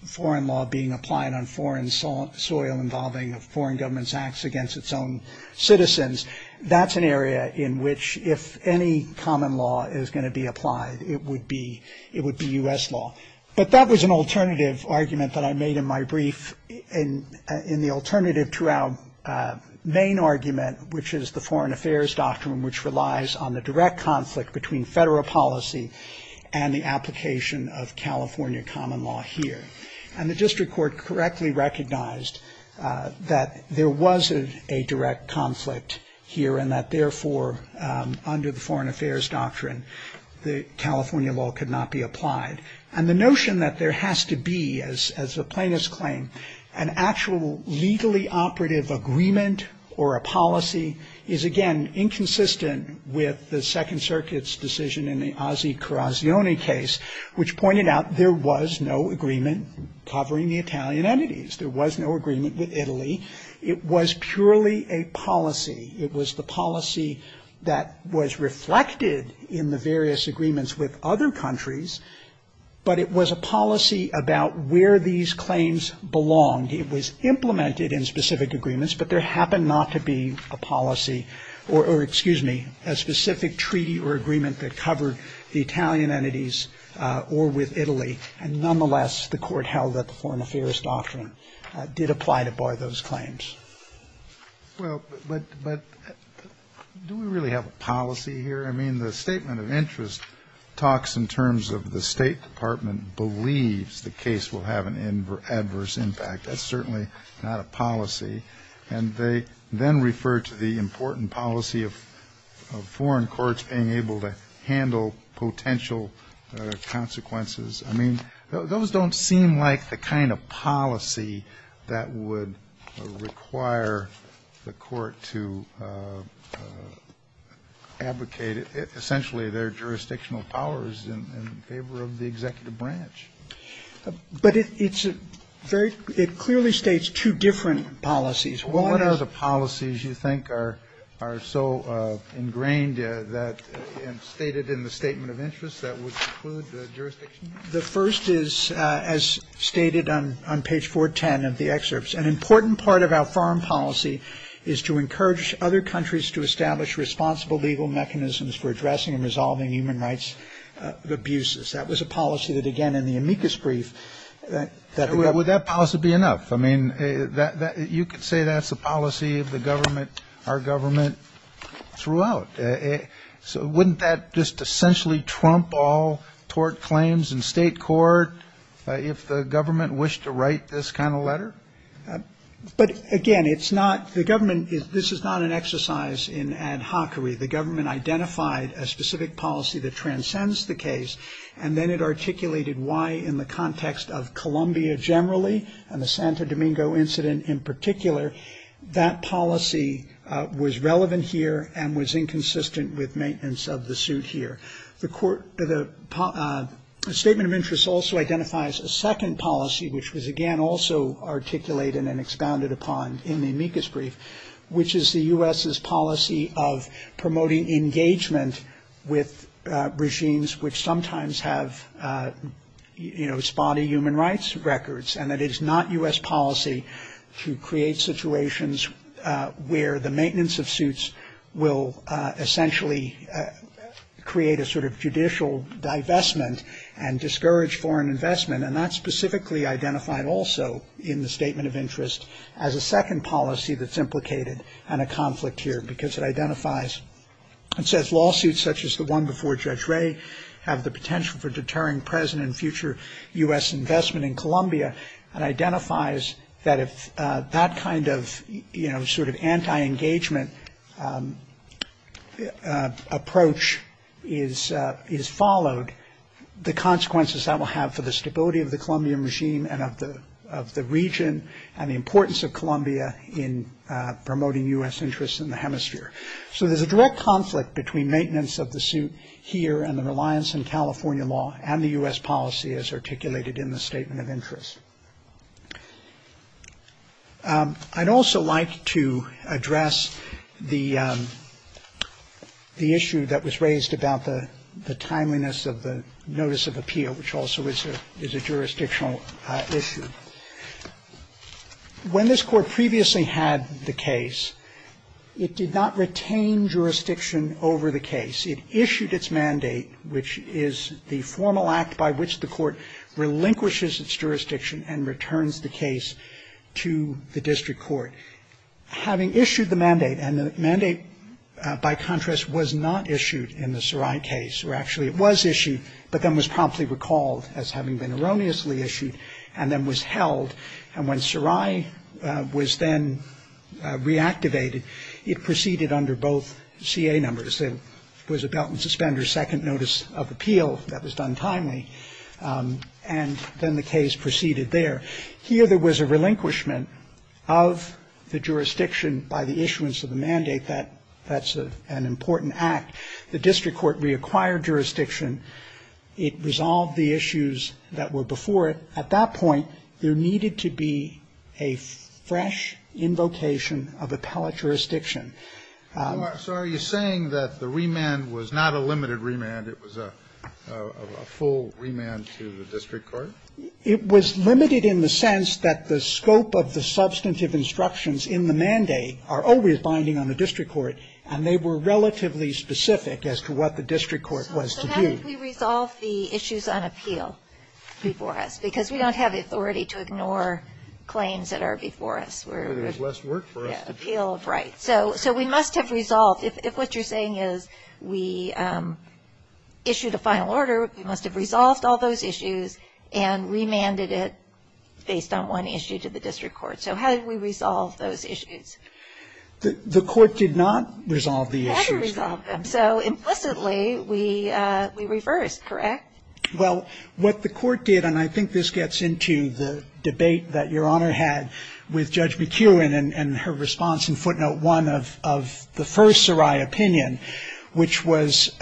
foreign law being applied on foreign soil involving foreign government's acts against its own citizens, that's an area in which if any common law is going to be applied, it would be U.S. law. But that was an alternative argument that I made in my brief in the alternative to our main argument, which is the Foreign Affairs Doctrine, which relies on the direct conflict between federal policy and the application of California common law here. And the district court correctly recognized that there was a direct conflict here and that therefore, under the Foreign Affairs Doctrine, California law could not be applied. And the notion that there has to be, as the plaintiffs claim, an actual legally operative agreement or a policy is, again, inconsistent with the Second Circuit's decision in the Ossie-Corazione case, which pointed out there was no agreement covering the Italian entities. There was no agreement with Italy. It was purely a policy. It was the policy that was reflected in the various agreements with other countries, but it was a policy about where these claims belonged. It was implemented in specific agreements, but there happened not to be a policy or, excuse me, a specific treaty or agreement that covered the Italian entities or with Italy. And nonetheless, the court held that the Foreign Affairs Doctrine did apply to bar those claims. Well, but do we really have a policy here? I mean, the statement of interest talks in terms of the State Department believes the case will have an adverse impact. That's certainly not a policy. And they then refer to the important policy of foreign courts being able to handle potential consequences. I mean, those don't seem like the kind of policy that would require the court to advocate essentially their jurisdictional powers in favor of the executive branch. But it clearly states two different policies. Well, what other policies you think are so ingrained and stated in the statement of interest that would preclude the jurisdiction? The first is, as stated on page 410 of the excerpts, an important part of our foreign policy is to encourage other countries to establish responsible legal mechanisms for addressing and resolving human rights abuses. That was a policy that, again, in the amicus brief that would help. Well, would that policy be enough? I mean, you could say that's the policy of the government, our government throughout. So wouldn't that just essentially trump all tort claims in state court if the government wished to write this kind of letter? But again, it's not the government. This is not an exercise in ad hoc. The government identified a specific policy that transcends the case. And then it articulated why in the context of Colombia generally and the Santo Domingo incident in particular, that policy was relevant here and was inconsistent with maintenance of the suit here. The statement of interest also identifies a second policy, which was, again, also articulated and expounded upon in the amicus brief, which is the U.S.'s policy of promoting engagement with regimes which sometimes have spotty human rights records. And it is not U.S. policy to create situations where the maintenance of suits will essentially create a sort of judicial divestment and discourage foreign investment. And that's specifically identified also in the statement of interest as a second policy that's implicated in a conflict here, because it identifies and says lawsuits such as the one before Judge Ray have the potential for deterring present and future U.S. investment in Colombia and identifies that if that kind of sort of anti-engagement approach is followed, the consequences that will have for the stability of the Colombian regime and of the region and the importance of Colombia in promoting U.S. interests in the hemisphere. So there's a direct conflict between maintenance of the suit here and the reliance on California law and the U.S. policy as articulated in the statement of interest. I'd also like to address the issue that was raised about the timeliness of the notice of appeal, which also is a jurisdictional issue. When this court previously had the case, it did not retain jurisdiction over the case. It issued its mandate, which is the formal act by which the court relinquishes its jurisdiction and returns the case to the district court. Having issued the mandate, and the mandate, by contrast, was not issued in the Sarai case, or actually it was issued, but then was promptly recalled as having been erroneously issued and then was held. And when Sarai was then reactivated, it proceeded under both CA numbers. It was a belt and suspender second notice of appeal that was done timely. And then the case proceeded there. Here there was a relinquishment of the jurisdiction by the issuance of the mandate. That's an important act. The district court reacquired jurisdiction. It resolved the issues that were before it. At that point, there needed to be a fresh invocation of appellate jurisdiction. So are you saying that the remand was not a limited remand, it was a full remand to the district court? It was limited in the sense that the scope of the substantive instructions in the mandate are always binding on the district court, and they were relatively specific as to what the district court was to do. How did we resolve the issues on appeal before us? Because we don't have the authority to ignore claims that are before us. There's less work for us. So we must have resolved. If what you're saying is we issued a final order, we must have resolved all those issues and remanded it based on one issue to the district court. So how did we resolve those issues? The court did not resolve the issues. So implicitly, we reversed, correct? Well, what the court did, and I think this gets into the debate that Your Honor had with Judge McEwen and her response in footnote one of the first Sarai opinion, which was,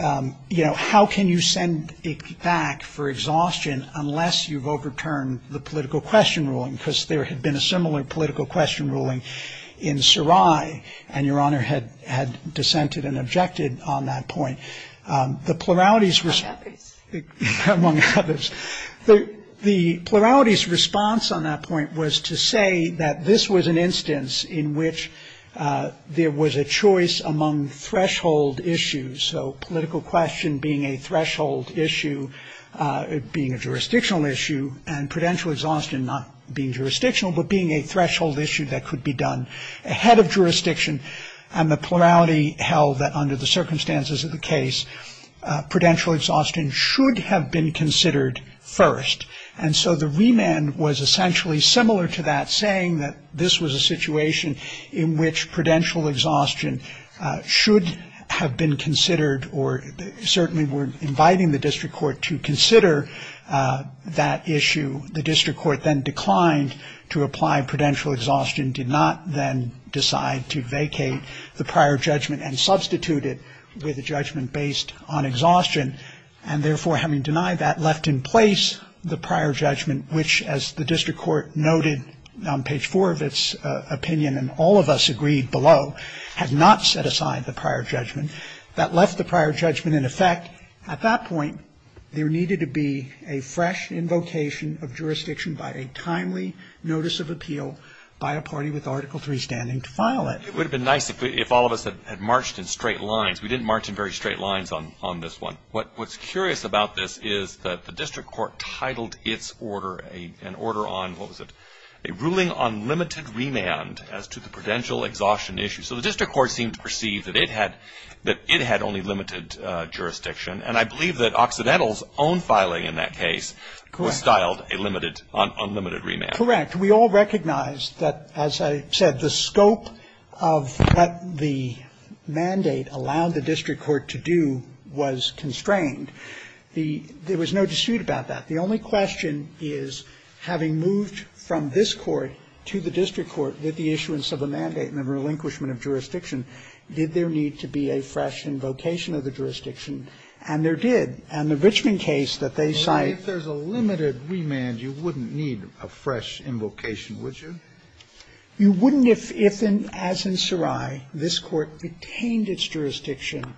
you know, how can you send it back for exhaustion unless you've overturned the political question ruling? Because there had been a similar political question ruling in Sarai, and Your Honor had dissented and objected on that point. The plurality's response, among others, the plurality's response on that point was to say that this was an instance in which there was a choice among threshold issues. So political question being a threshold issue, being a jurisdictional issue, and prudential exhaustion not being jurisdictional, but being a threshold issue that could be done ahead of jurisdiction. And the plurality held that under the circumstances of the case, prudential exhaustion should have been considered first. And so the remand was essentially similar to that, saying that this was a situation in which prudential exhaustion should have been considered or certainly were inviting the district court to consider that issue. The district court then declined to apply prudential exhaustion, did not then decide to vacate the prior judgment and substitute it with a judgment based on exhaustion. And therefore, having denied that, left in place the prior judgment, which as the district court noted on page four of its opinion, and all of us agreed below, had not set aside the prior judgment. That left the prior judgment in effect. At that point, there needed to be a fresh invocation of jurisdiction by a timely notice of appeal by a party with Article III standing to file it. It would have been nice if all of us had marched in straight lines. We didn't march in very straight lines on this one. What's curious about this is that the district court titled its order an order on, what was it, a ruling on limited remand as to the prudential exhaustion issue. So the district court seemed to perceive that it had only limited jurisdiction, and I believe that Occidental's own filing in that case was styled a limited, unlimited remand. Correct. We all recognized that, as I said, the scope of what the mandate allowed the district court to do was constrained. There was no dispute about that. The only question is having moved from this court to the district court with the issuance of a mandate and the relinquishment of jurisdiction, did there need to be a fresh invocation of the jurisdiction? And there did. And the Richmond case that they cite… If there's a limited remand, you wouldn't need a fresh invocation, would you? You wouldn't if, as in Sarai, this court retained its jurisdiction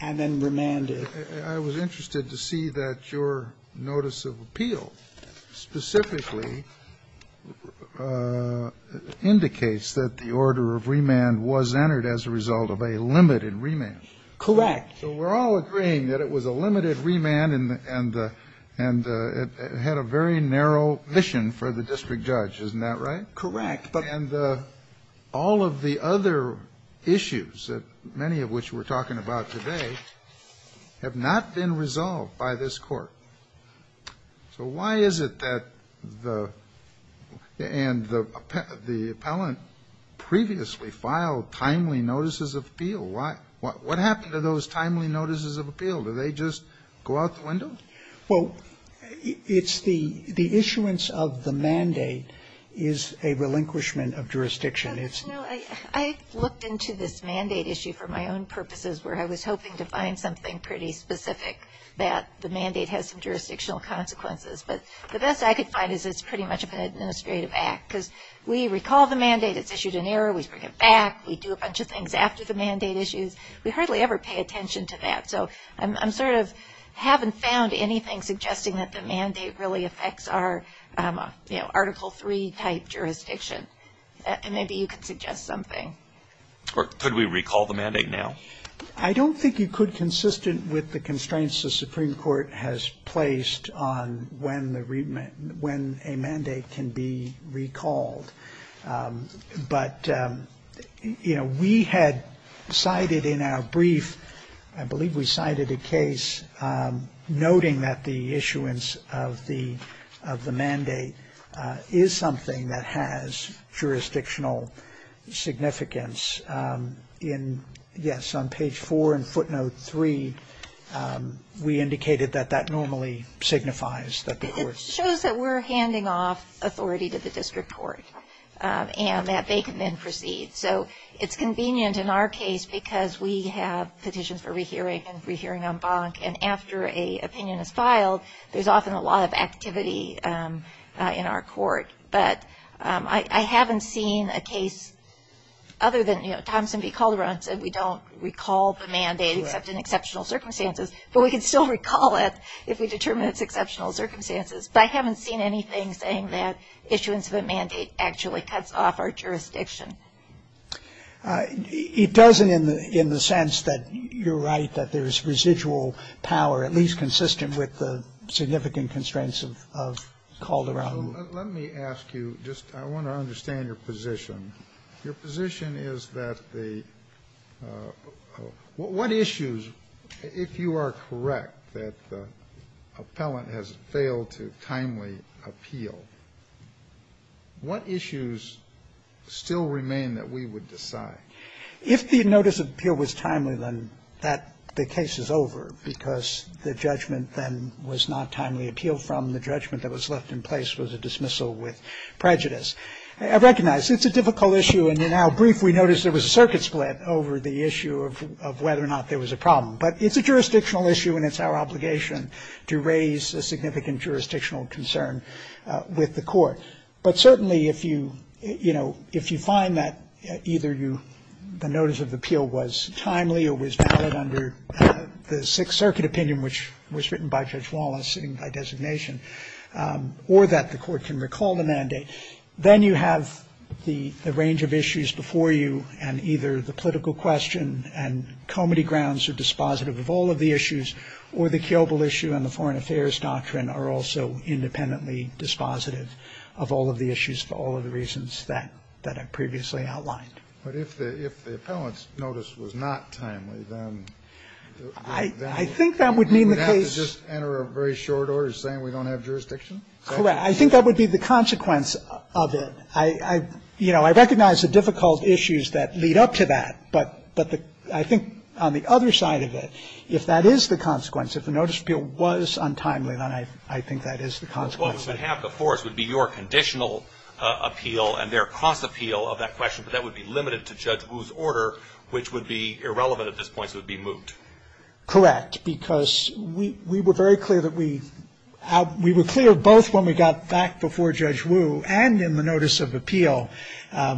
and then remanded. I was interested to see that your notice of appeal specifically indicates that the order of remand was entered as a result of a limited remand. Correct. We're all agreeing that it was a limited remand and it had a very narrow mission for the district judge, isn't that right? Correct. And all of the other issues, many of which we're talking about today, have not been resolved by this court. So why is it that the appellant previously filed timely notices of appeal? What happened to those timely notices of appeal? Did they just go out the window? Well, it's the issuance of the mandate is a relinquishment of jurisdiction. I looked into this mandate issue for my own purposes where I was hoping to find something pretty specific that the mandate has some jurisdictional consequences. But the best I could find is it's pretty much an administrative act because we recall the mandate, it's issued in error, we bring it back, we do a bunch of things after the mandate issues. We hardly ever pay attention to that. So I sort of haven't found anything suggesting that the mandate really affects our Article III type jurisdiction. Maybe you could suggest something. Could we recall the mandate now? I don't think you could consistent with the constraints the Supreme Court has placed on when a mandate can be recalled. But, you know, we had cited in our brief, I believe we cited a case noting that the issuance of the mandate is something that has jurisdictional significance. Yes, on page 4 in footnote 3, we indicated that that normally signifies that the court... and that they can then proceed. So it's convenient in our case because we have petition for re-hearing and re-hearing en banc. And after an opinion is filed, there's often a lot of activity in our court. But I haven't seen a case other than, you know, Thompson v. Calderon said we don't recall the mandate except in exceptional circumstances. But we can still recall it if we determine it's exceptional circumstances. But I haven't seen anything saying that issuance of a mandate actually cuts off our jurisdiction. It doesn't in the sense that you're right, that there's residual power, at least consistent with the significant constraints of Calderon. So let me ask you, just I want to understand your position. Your position is that the... If you are correct that the appellant has failed to timely appeal, what issues still remain that we would decide? If the notice of appeal was timely, then the case is over because the judgment then was not timely appealed from. The judgment that was left in place was a dismissal with prejudice. I recognize it's a difficult issue. And in our brief, we noticed there was a circuit split over the issue of whether or not there was a problem. But it's a jurisdictional issue and it's our obligation to raise a significant jurisdictional concern with the court. But certainly if you, you know, if you find that either the notice of appeal was timely or was valid under the Sixth Circuit opinion, which was written by Judge Wallace in my designation, or that the court can recall the mandate, then you have the range of issues before you and either the political question and comedy grounds are dispositive of all of the issues or the killable issue and the foreign affairs doctrine are also independently dispositive of all of the issues for all of the reasons that I previously outlined. But if the appellant's notice was not timely, then... I think that would mean the case... We would have to just enter a very short order saying we don't have jurisdiction? Correct. I think that would be the consequence of it. You know, I recognize the difficult issues that lead up to that, but I think on the other side of it, if that is the consequence, if the notice of appeal was untimely, then I think that is the consequence. Half the force would be your conditional appeal and their cross-appeal of that question, but that would be limited to Judge Wu's order, which would be irrelevant at this point, so it would be moot. Correct, because we were very clear that we... We were clear both when we got back before Judge Wu and in the notice of appeal,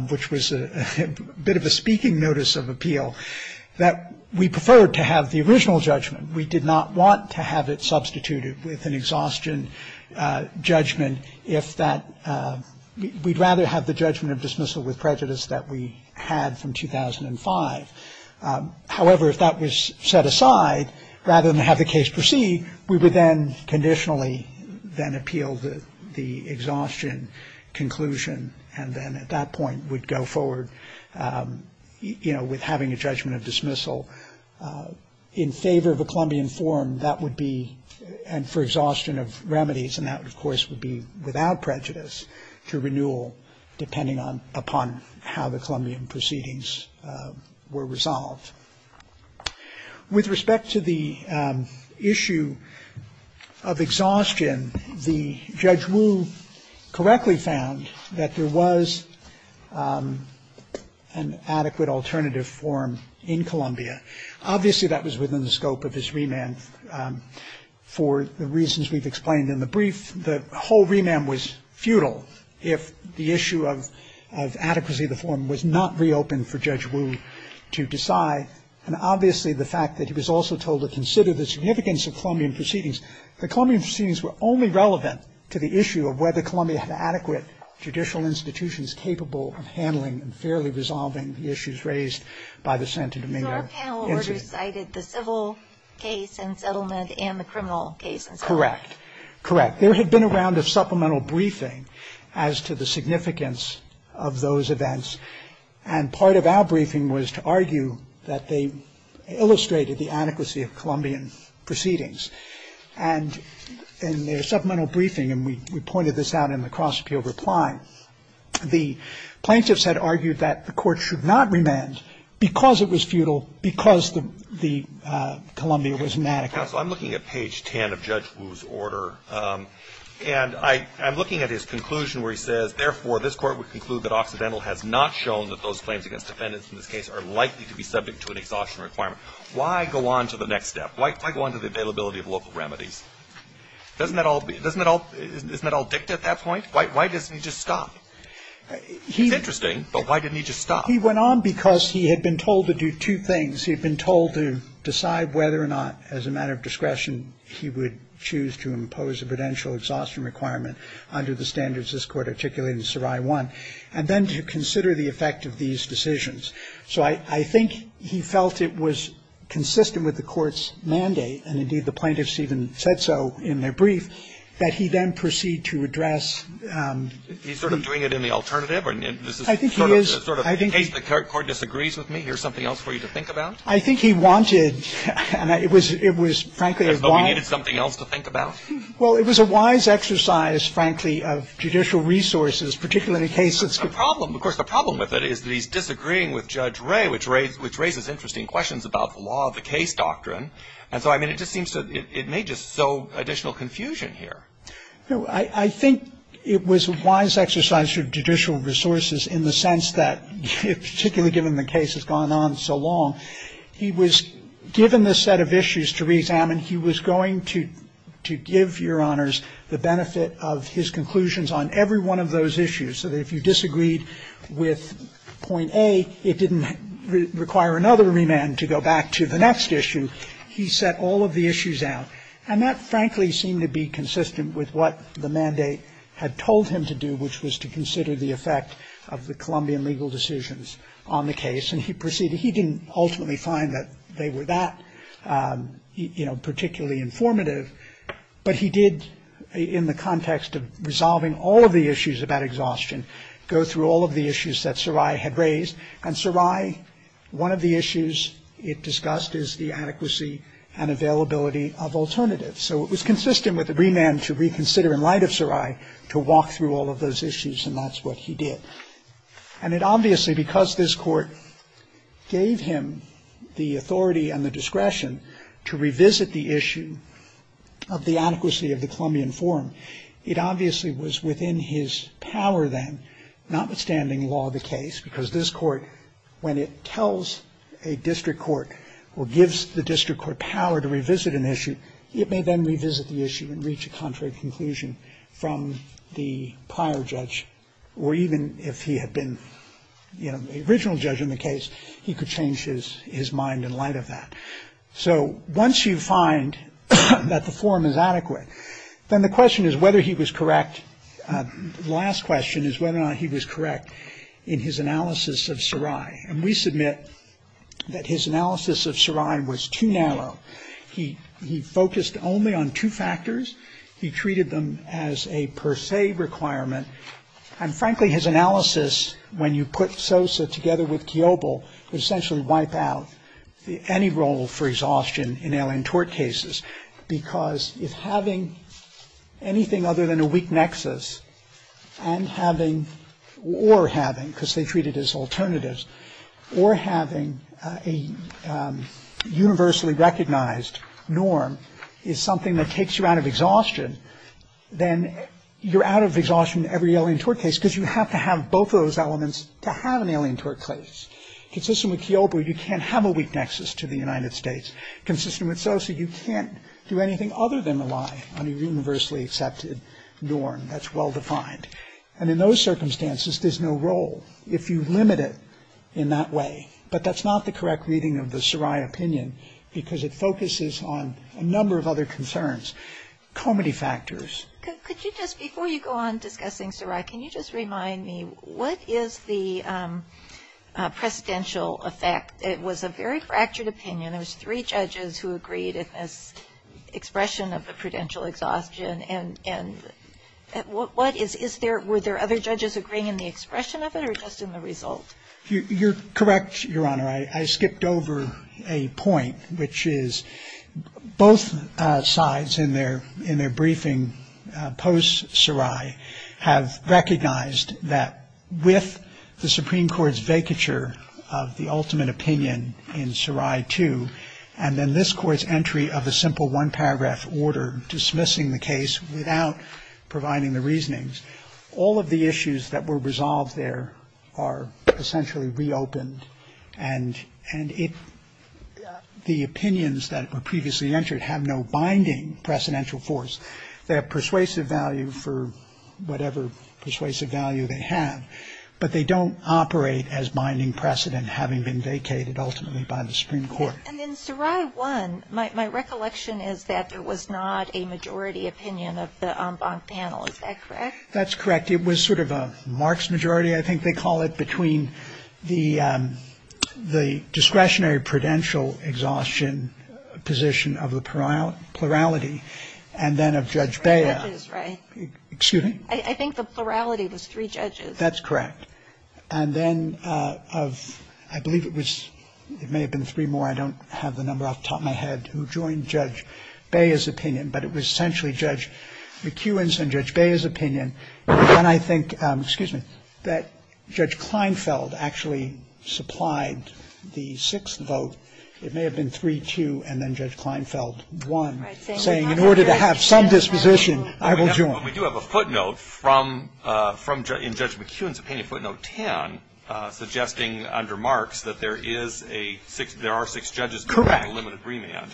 which was a bit of a speaking notice of appeal, that we preferred to have the original judgment. We did not want to have it substituted with an exhaustion judgment if that... We'd rather have the judgment of dismissal with prejudice that we had from 2005. However, if that was set aside, rather than have the case proceed, we would then conditionally then appeal the exhaustion conclusion and then at that point would go forward, you know, with having a judgment of dismissal. In favour of a Columbian forum, that would be... And for exhaustion of remedies, and that, of course, would be without prejudice through renewal, depending upon how the Columbian proceedings were resolved. With respect to the issue of exhaustion, the Judge Wu correctly found that there was an adequate alternative forum in Columbia. Obviously, that was within the scope of this remand for the reasons we've explained in the brief. The whole remand was futile if the issue of adequacy of the forum was not reopened for Judge Wu to decide. And obviously, the fact that he was also told to consider the significance of Columbian proceedings. The Columbian proceedings were only relevant to the issue of whether Columbia had adequate judicial institutions capable of handling and fairly resolving the issues raised by the Santo Domingo Institute. Our panel already cited the civil case and settlement and the criminal case. Correct. Correct. There had been a round of supplemental briefing as to the significance of those events. And part of our briefing was to argue that they illustrated the adequacy of Columbian proceedings. And in their supplemental briefing, and we pointed this out in the cross-appeal reply, the plaintiffs had argued that the court should not remand because it was futile, because Columbia was mad about it. I'm looking at page 10 of Judge Wu's order. And I'm looking at his conclusion where he says, If, therefore, this court would conclude that Occidental has not shown that those claims against defendants in this case are likely to be subject to an exhaustion requirement, why go on to the next step? Why go on to the availability of local remedies? Isn't that all dicta at that point? Why didn't he just stop? It's interesting, but why didn't he just stop? He went on because he had been told to do two things. He had been told to decide whether or not, as a matter of discretion, he would choose to impose a prudential exhaustion requirement under the standards this court articulated in Sarai 1, and then to consider the effect of these decisions. So I think he felt it was consistent with the court's mandate, and indeed the plaintiffs even said so in their brief, that he then proceed to address... He's sort of doing it in the alternative? I think he is. In case the court disagrees with me, here's something else for you to think about? I think he wanted, and it was frankly a wise... He needed something else to think about? Well, it was a wise exercise, frankly, of judicial resources, particularly in cases... Of course, the problem with it is that he's disagreeing with Judge Ray, which raises interesting questions about the law of the case doctrine, and so it may just sow additional confusion here. I think it was a wise exercise of judicial resources in the sense that, particularly given the case has gone on so long, he was given this set of issues to re-examine. He was going to give your honors the benefit of his conclusions on every one of those issues, so that if you disagreed with point A, it didn't require another remand to go back to the next issue. He set all of the issues out, and that frankly seemed to be consistent with what the mandate had told him to do, which was to consider the effect of the Colombian legal decisions on the case, and he proceeded. He didn't ultimately find that they were that particularly informative, but he did, in the context of resolving all of the issues about exhaustion, go through all of the issues that Sarai had raised, and Sarai, one of the issues it discussed is the adequacy and availability of alternatives, so it was consistent with the remand to reconsider in light of Sarai to walk through all of those issues, and that's what he did. And it obviously, because this court gave him the authority and the discretion to revisit the issue of the adequacy of the Colombian form, it obviously was within his power then, notwithstanding law of the case, because this court, when it tells a district court or gives the district court power to revisit an issue, it may then revisit the issue and reach a contrary conclusion from the prior judge, or even if he had been the original judge in the case, he could change his mind in light of that. So once you find that the form is adequate, then the question is whether he was correct, the last question is whether or not he was correct in his analysis of Sarai, and we submit that his analysis of Sarai was too narrow. He focused only on two factors. He treated them as a per se requirement, and frankly his analysis, when you put Sosa together with Kiobel, would essentially wipe out any role for exhaustion in alien tort cases, because if having anything other than a weak nexus, and having, or having, because they treat it as alternatives, or having a universally recognized norm is something that takes you out of exhaustion, then you're out of exhaustion in every alien tort case, because you have to have both of those elements to have an alien tort case. Consistent with Kiobel, you can't have a weak nexus to the United States. Consistent with Sosa, you can't do anything other than rely on a universally accepted norm. That's well defined. And in those circumstances, there's no role, if you limit it in that way. But that's not the correct reading of the Sarai opinion, because it focuses on a number of other concerns, comedy factors. Could you just, before you go on discussing Sarai, can you just remind me, what is the precedential effect? It was a very fractured opinion. There was three judges who agreed in this expression of the prudential exhaustion, and what is, is there, were there other judges agreeing in the expression of it, or just in the results? You're correct, Your Honor. I skipped over a point, which is both sides in their, in their briefing post-Sarai, have recognized that with the Supreme Court's vacature of the ultimate opinion in Sarai 2, and then this Court's entry of a simple one-paragraph order dismissing the case without providing the reasonings, all of the issues that were resolved there are essentially reopened, and the opinions that were previously entered have no binding precedential force. They have persuasive value for whatever persuasive value they have, but they don't operate as binding precedent having been vacated ultimately by the Supreme Court. And in Sarai 1, my recollection is that there was not a majority opinion of the en banc panel. Is that correct? That's correct. It was sort of a Marx majority, I think they call it, between the discretionary prudential exhaustion position of the plurality, and then of Judge Bayer. Three judges, right? Excuse me? I think the plurality was three judges. That's correct. And then of, I believe it was, it may have been three more, I don't have the number off the top of my head, who joined Judge Bayer's opinion, but it was essentially Judge McEwen's and Judge Bayer's opinion. And I think, excuse me, that Judge Kleinfeld actually supplied the sixth vote. It may have been 3-2, and then Judge Kleinfeld won, saying in order to have some disposition, I will join. We do have a footnote from, in Judge McEwen's opinion, footnote 10, suggesting under Marx that there are six judges, Correct.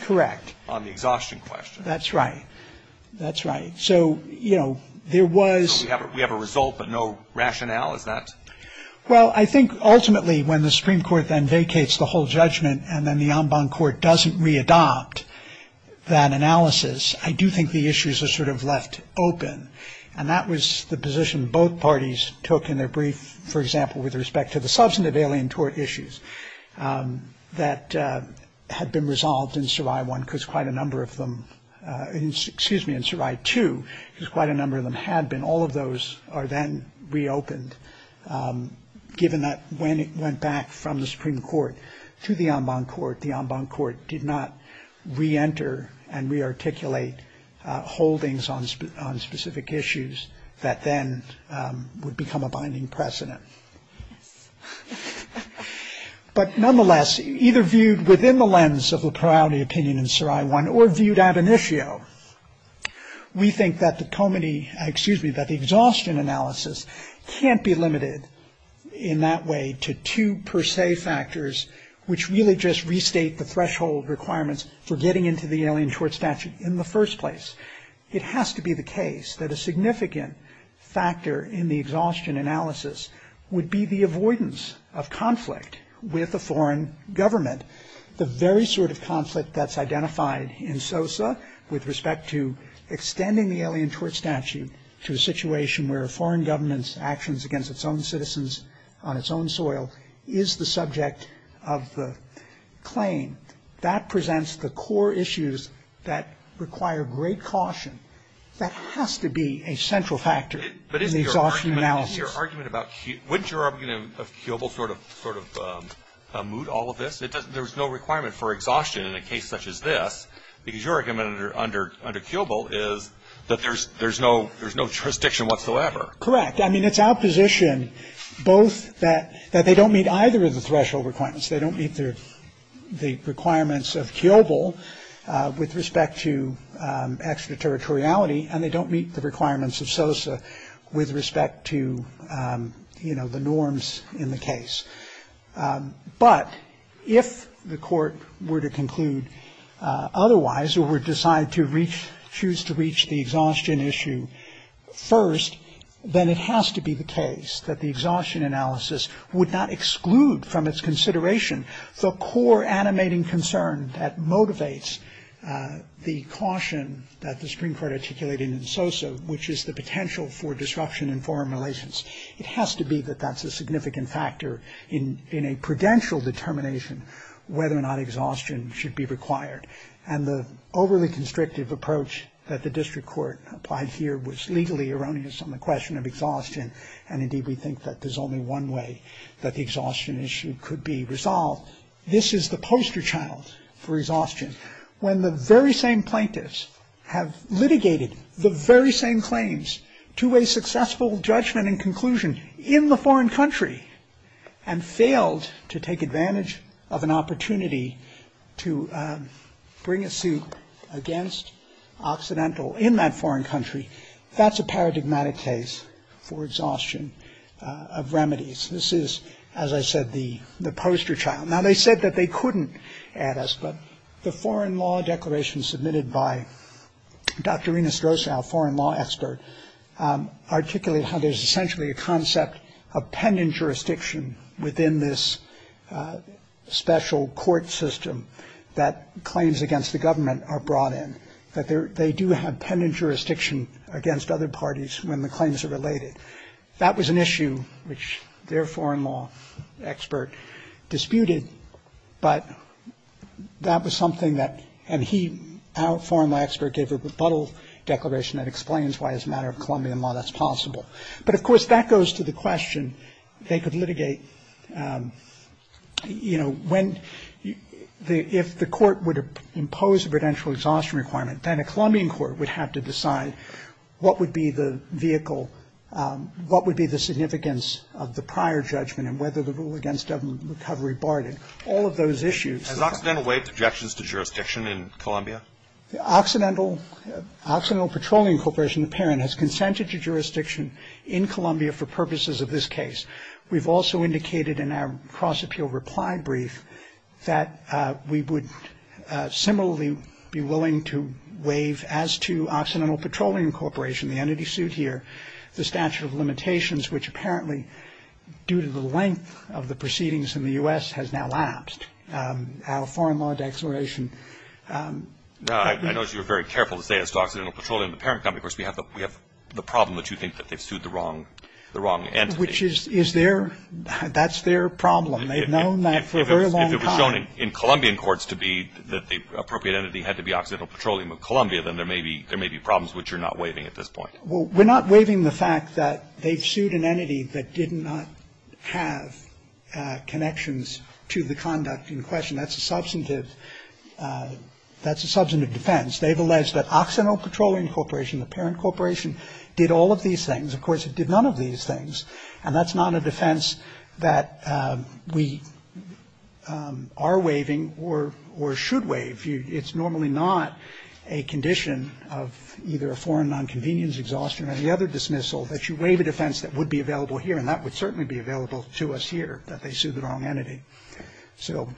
Correct. On the exhaustion question. That's right. That's right. So, you know, there was- We have a result, but no rationale? Is that- Well, I think ultimately when the Supreme Court then vacates the whole judgment and then the en banc court doesn't readopt that analysis, I do think the issues are sort of left open. And that was the position both parties took in their brief, for example, with respect to the substantive alien tort issues that had been resolved in Sarai 1, because quite a number of them, excuse me, in Sarai 2, because quite a number of them had been. All of those are then reopened, given that when it went back from the Supreme Court to the en banc court, the en banc court did not reenter and rearticulate holdings on specific issues that then would become a binding precedent. But nonetheless, either viewed within the lens of a priority opinion in Sarai 1 or viewed ab initio, we think that the exhaustion analysis can't be limited in that way to two per se factors which really just restate the threshold requirements for getting into the alien tort statute in the first place. It has to be the case that a significant factor in the exhaustion analysis would be the avoidance of conflict with a foreign government. The very sort of conflict that's identified in SOSA with respect to extending the alien tort statute to a situation where a foreign government's actions against its own citizens, its own soil, is the subject of the claim. That presents the core issues that require great caution. That has to be a central factor in the exhaustion analysis. But isn't your argument about, wouldn't your argument of Kiobel sort of moot all of this? There's no requirement for exhaustion in a case such as this because your argument under Kiobel is that there's no jurisdiction whatsoever. Correct. I mean, it's opposition both that they don't meet either of the threshold requirements. They don't meet the requirements of Kiobel with respect to extraterritoriality and they don't meet the requirements of SOSA with respect to, you know, the norms in the case. But if the court were to conclude otherwise or were designed to choose to reach the exhaustion issue first, then it has to be the case that the exhaustion analysis would not exclude from its consideration the core animating concern that motivates the caution that the Supreme Court articulated in SOSA, which is the potential for disruption in foreign relations. It has to be that that's a significant factor in a prudential determination whether or not exhaustion should be required. And the overly constrictive approach that the district court applied here was legally erroneous on the question of exhaustion. And indeed, we think that there's only one way that the exhaustion issue could be resolved. This is the poster child for exhaustion. When the very same plaintiffs have litigated the very same claims to a successful judgment and conclusion in the foreign country and failed to take advantage of an opportunity to bring a suit against Occidental in that foreign country, that's a paradigmatic case for exhaustion of remedies. This is, as I said, the poster child. Now, they said that they couldn't add us, but the foreign law declaration submitted by Dr. within this special court system that claims against the government are brought in. They do have pending jurisdiction against other parties when the claims are related. That was an issue which their foreign law expert disputed. But that was something that and he, our foreign law expert, gave a rebuttal declaration that explains why as a matter of Colombian law, that's possible. But, of course, that goes to the question, they could litigate, you know, if the court would have imposed a prudential exhaustion requirement, then a Colombian court would have to decide what would be the vehicle, what would be the significance of the prior judgment and whether the rule against government recovery barred it. All of those issues. Has Occidental waived objections to jurisdiction in Colombia? Occidental Petroleum Corporation, apparently, has consented to jurisdiction in Colombia for purposes of this case. We've also indicated in our cross-appeal reply brief that we would similarly be willing to waive as to Occidental Petroleum Corporation, the entity sued here, the statute of limitations, which apparently due to the length of the proceedings in the U.S. has now lapsed. Our foreign law declaration. I noticed you were very careful to say this to Occidental Petroleum. Of course, we have the problem that you think that they sued the wrong entity. Which is their, that's their problem. They've known that for a very long time. If it was shown in Colombian courts to be that the appropriate entity had to be Occidental Petroleum of Colombia, then there may be problems which you're not waiving at this point. Well, we're not waiving the fact that they sued an entity that did not have connections to the conduct in question. That's a substantive, that's a substantive defense. They've alleged that Occidental Petroleum Corporation, the parent corporation, did all of these things. Of course, it did none of these things. And that's not a defense that we are waiving or should waive. It's normally not a condition of either a foreign nonconvenience, exhaustion, or any other dismissal that you waive a defense that would be available here. And that would certainly be available to us here, that they sued the wrong entity. So,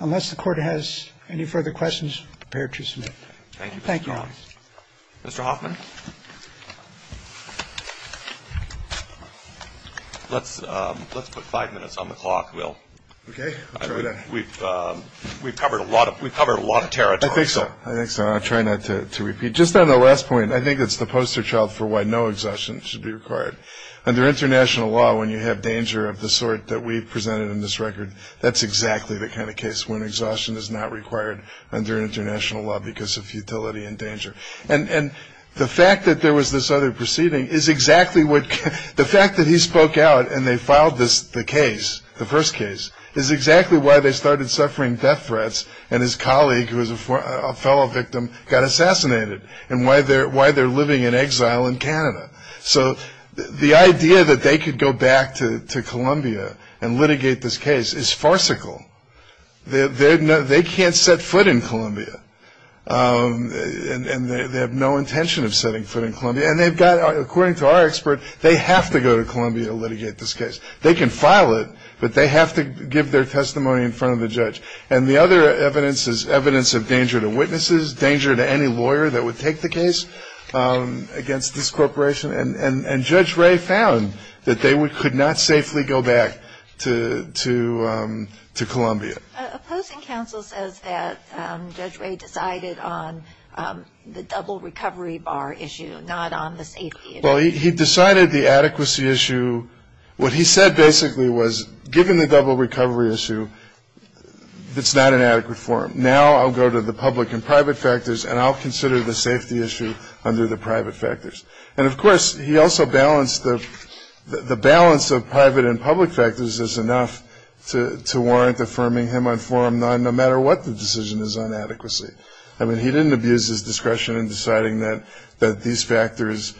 unless the court has any further questions, prepare to submit. Thank you. Mr. Hoffman? Let's put five minutes on the clock, Will. We've covered a lot of territory. I think so. I think so. I'm trying not to repeat. Just on the last point, I think it's the poster child for why no exhaustion should be required. Under international law, when you have danger of the sort that we've presented in this record, that's exactly the kind of case when exhaustion is not required under international law because of futility and danger. And the fact that there was this other proceeding is exactly what, the fact that he spoke out and they filed the case, the first case, is exactly why they started suffering death threats and his colleague, who was a fellow victim, got assassinated, and why they're living in exile in Canada. So, the idea that they could go back to Colombia and litigate this case is farcical. They can't set foot in Colombia, and they have no intention of setting foot in Colombia. And they've got, according to our expert, they have to go to Colombia to litigate this case. They can file it, but they have to give their testimony in front of the judge. And the other evidence is evidence of danger to witnesses, danger to any lawyer that would take the case against this corporation. And Judge Ray found that they could not safely go back to Colombia. A posting counsel says that Judge Ray decided on the double recovery bar issue, not on the safety issue. Well, he decided the adequacy issue. What he said basically was, given the double recovery issue, it's not an adequate forum. Now I'll go to the public and private factors, and I'll consider the safety issue under the private factors. And, of course, he also balanced the balance of private and public factors is enough to warrant affirming him on forum nine, no matter what the decision is on adequacy. I mean, he didn't abuse his discretion in deciding that these factors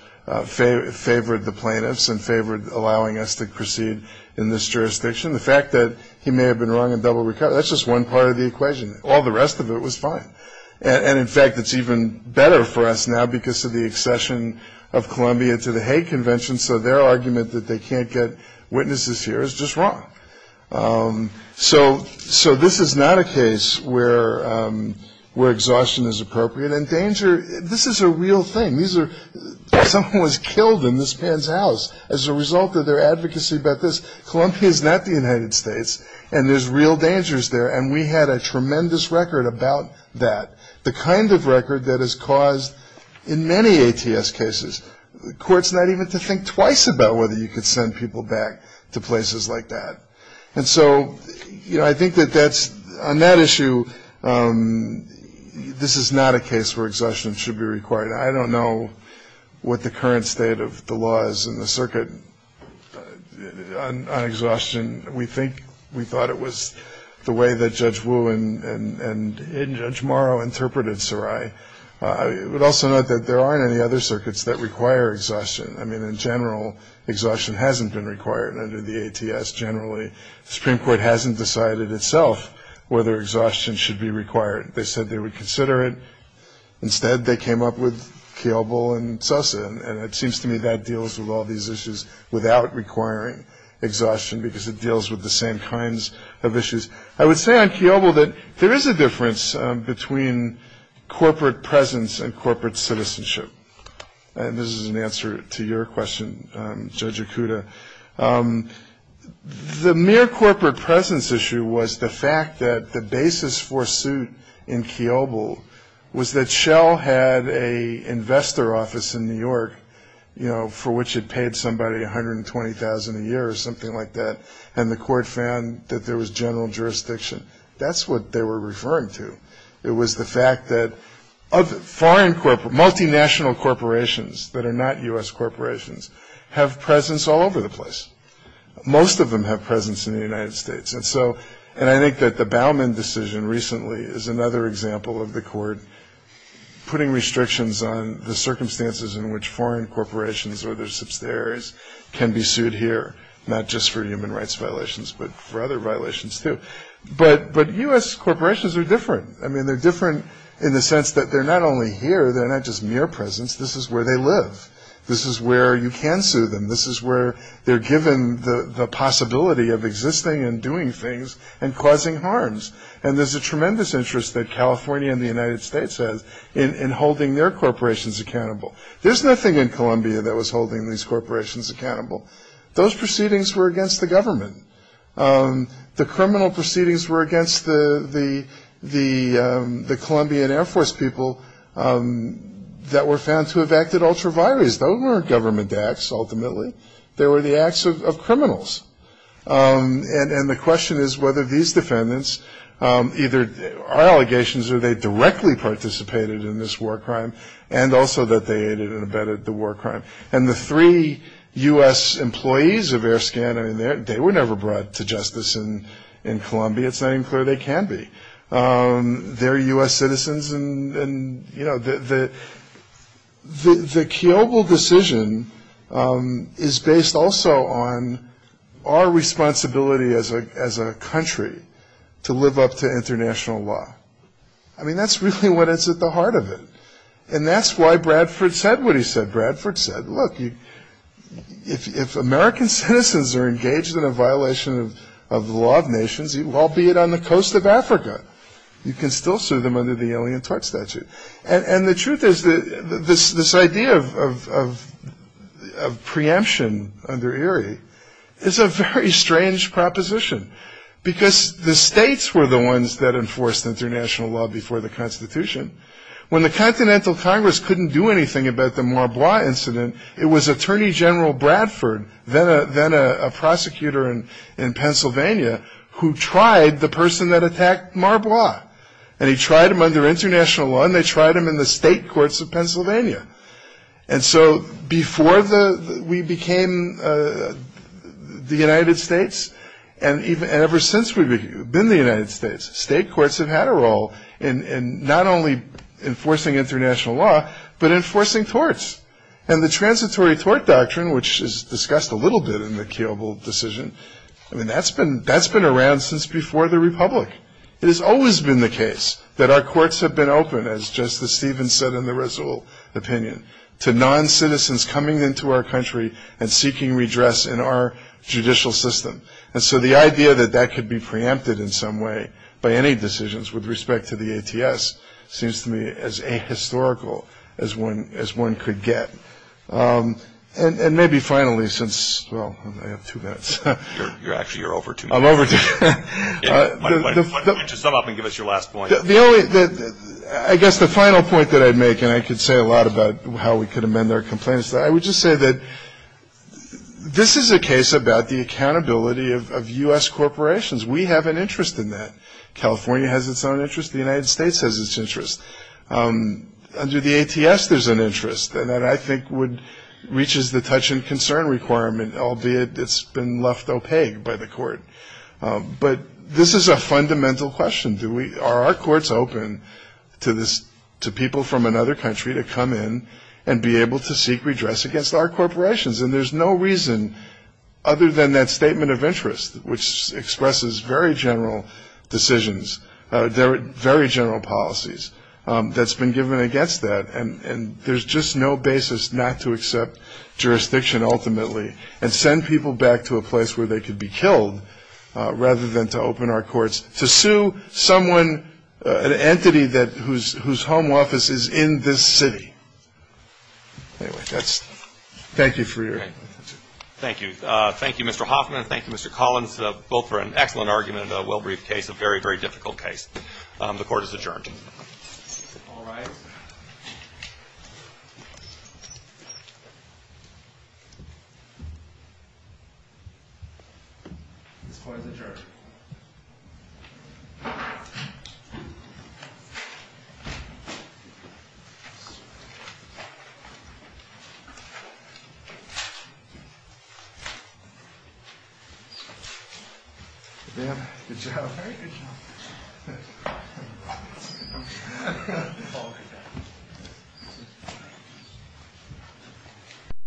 favored the plaintiffs and favored allowing us to proceed in this jurisdiction. The fact that he may have been wrong on double recovery, that's just one part of the equation. All the rest of it was fine. And, in fact, it's even better for us now because of the accession of Colombia to the Hague Convention, so their argument that they can't get witnesses here is just wrong. So this is not a case where exhaustion is appropriate. And danger, this is a real thing. Someone was killed in this man's house as a result of their advocacy about this. Colombia is not the United States, and there's real dangers there. And we had a tremendous record about that, the kind of record that has caused, in many ATS cases, courts not even to think twice about whether you could send people back to places like that. And so I think that that's, on that issue, this is not a case where exhaustion should be required. I don't know what the current state of the law is in the circuit on exhaustion. We think, we thought it was the way that Judge Wu and Judge Morrow interpreted Sarai. But also note that there aren't any other circuits that require exhaustion. I mean, in general, exhaustion hasn't been required under the ATS generally. The Supreme Court hasn't decided itself whether exhaustion should be required. They said they would consider it. Instead, they came up with Kiobel and Sosa, and it seems to me that deals with all these issues without requiring exhaustion because it deals with the same kinds of issues. I would say on Kiobel that there is a difference between corporate presence and corporate citizenship. And this is an answer to your question, Judge Okuda. The mere corporate presence issue was the fact that the basis for suit in Kiobel was that Shell had an investor office in New York, you know, for which it paid somebody $120,000 a year or something like that, and the court found that there was general jurisdiction. That's what they were referring to. It was the fact that multinational corporations that are not U.S. corporations have presence all over the place. Most of them have presence in the United States. And I think that the Baumann decision recently is another example of the court putting restrictions on the circumstances in which foreign corporations or their subsidiaries can be sued here, not just for human rights violations but for other violations, too. But U.S. corporations are different. I mean, they're different in the sense that they're not only here. They're not just mere presence. This is where they live. This is where you can sue them. This is where they're given the possibility of existing and doing things and causing harms. And there's a tremendous interest that California and the United States have in holding their corporations accountable. There's nothing in Colombia that was holding these corporations accountable. Those proceedings were against the government. The criminal proceedings were against the Colombian Air Force people that were found to have acted ultra vires. Those weren't government acts, ultimately. They were the acts of criminals. And the question is whether these defendants either are allegations or they directly participated in this war crime and also that they aided and abetted the war crime. And the three U.S. employees of AirScan, I mean, they were never brought to justice in Colombia. It's not even clear they can be. They're U.S. citizens. And, you know, the Kiobel decision is based also on our responsibility as a country to live up to international law. I mean, that's really what is at the heart of it. And that's why Bradford said what he said. Bradford said, look, if American citizens are engaged in a violation of the law of nations, albeit on the coast of Africa, you can still sue them under the Alien Tort Statute. And the truth is this idea of preemption under Erie is a very strange proposition because the states were the ones that enforced international law before the Constitution. When the Continental Congress couldn't do anything about the Marbois incident, it was Attorney General Bradford, then a prosecutor in Pennsylvania, who tried the person that attacked Marbois. And he tried him under international law, and they tried him in the state courts of Pennsylvania. And so before we became the United States, and ever since we've been the United States, state courts have had a role in not only enforcing international law, but enforcing torts. And the transitory tort doctrine, which is discussed a little bit in the Kiobel decision, I mean, that's been around since before the republic. It has always been the case that our courts have been open, as Justice Stevens said in the Rizal opinion, to non-citizens coming into our country and seeking redress in our judicial system. And so the idea that that could be preempted in some way by any decisions with respect to the APS seems to me as ahistorical as one could get. And maybe finally, since, well, I have two minutes. You're over to me. I'm over to you. Just come up and give us your last point. I guess the final point that I'd make, and I could say a lot about how we could amend our complaints, but I would just say that this is a case about the accountability of U.S. corporations. We have an interest in that. California has its own interest. The United States has its interest. Under the ATS, there's an interest. And that, I think, reaches the touch-and-concern requirement, albeit it's been left opaque by the court. But this is a fundamental question. Are our courts open to people from another country to come in and be able to seek redress against our corporations? And there's no reason other than that statement of interest, which expresses very general decisions, very general policies that's been given against that. And there's just no basis not to accept jurisdiction ultimately and send people back to a place where they could be killed rather than to open our courts to sue someone, an entity whose home office is in this city. Anyway, that's it. Thank you for your time. Thank you. Thank you, Mr. Hoffman. Thank you, Mr. Collins, both for an excellent argument and a well-briefed case, a very, very difficult case. The court is adjourned. All rise. The court is adjourned. Thank you.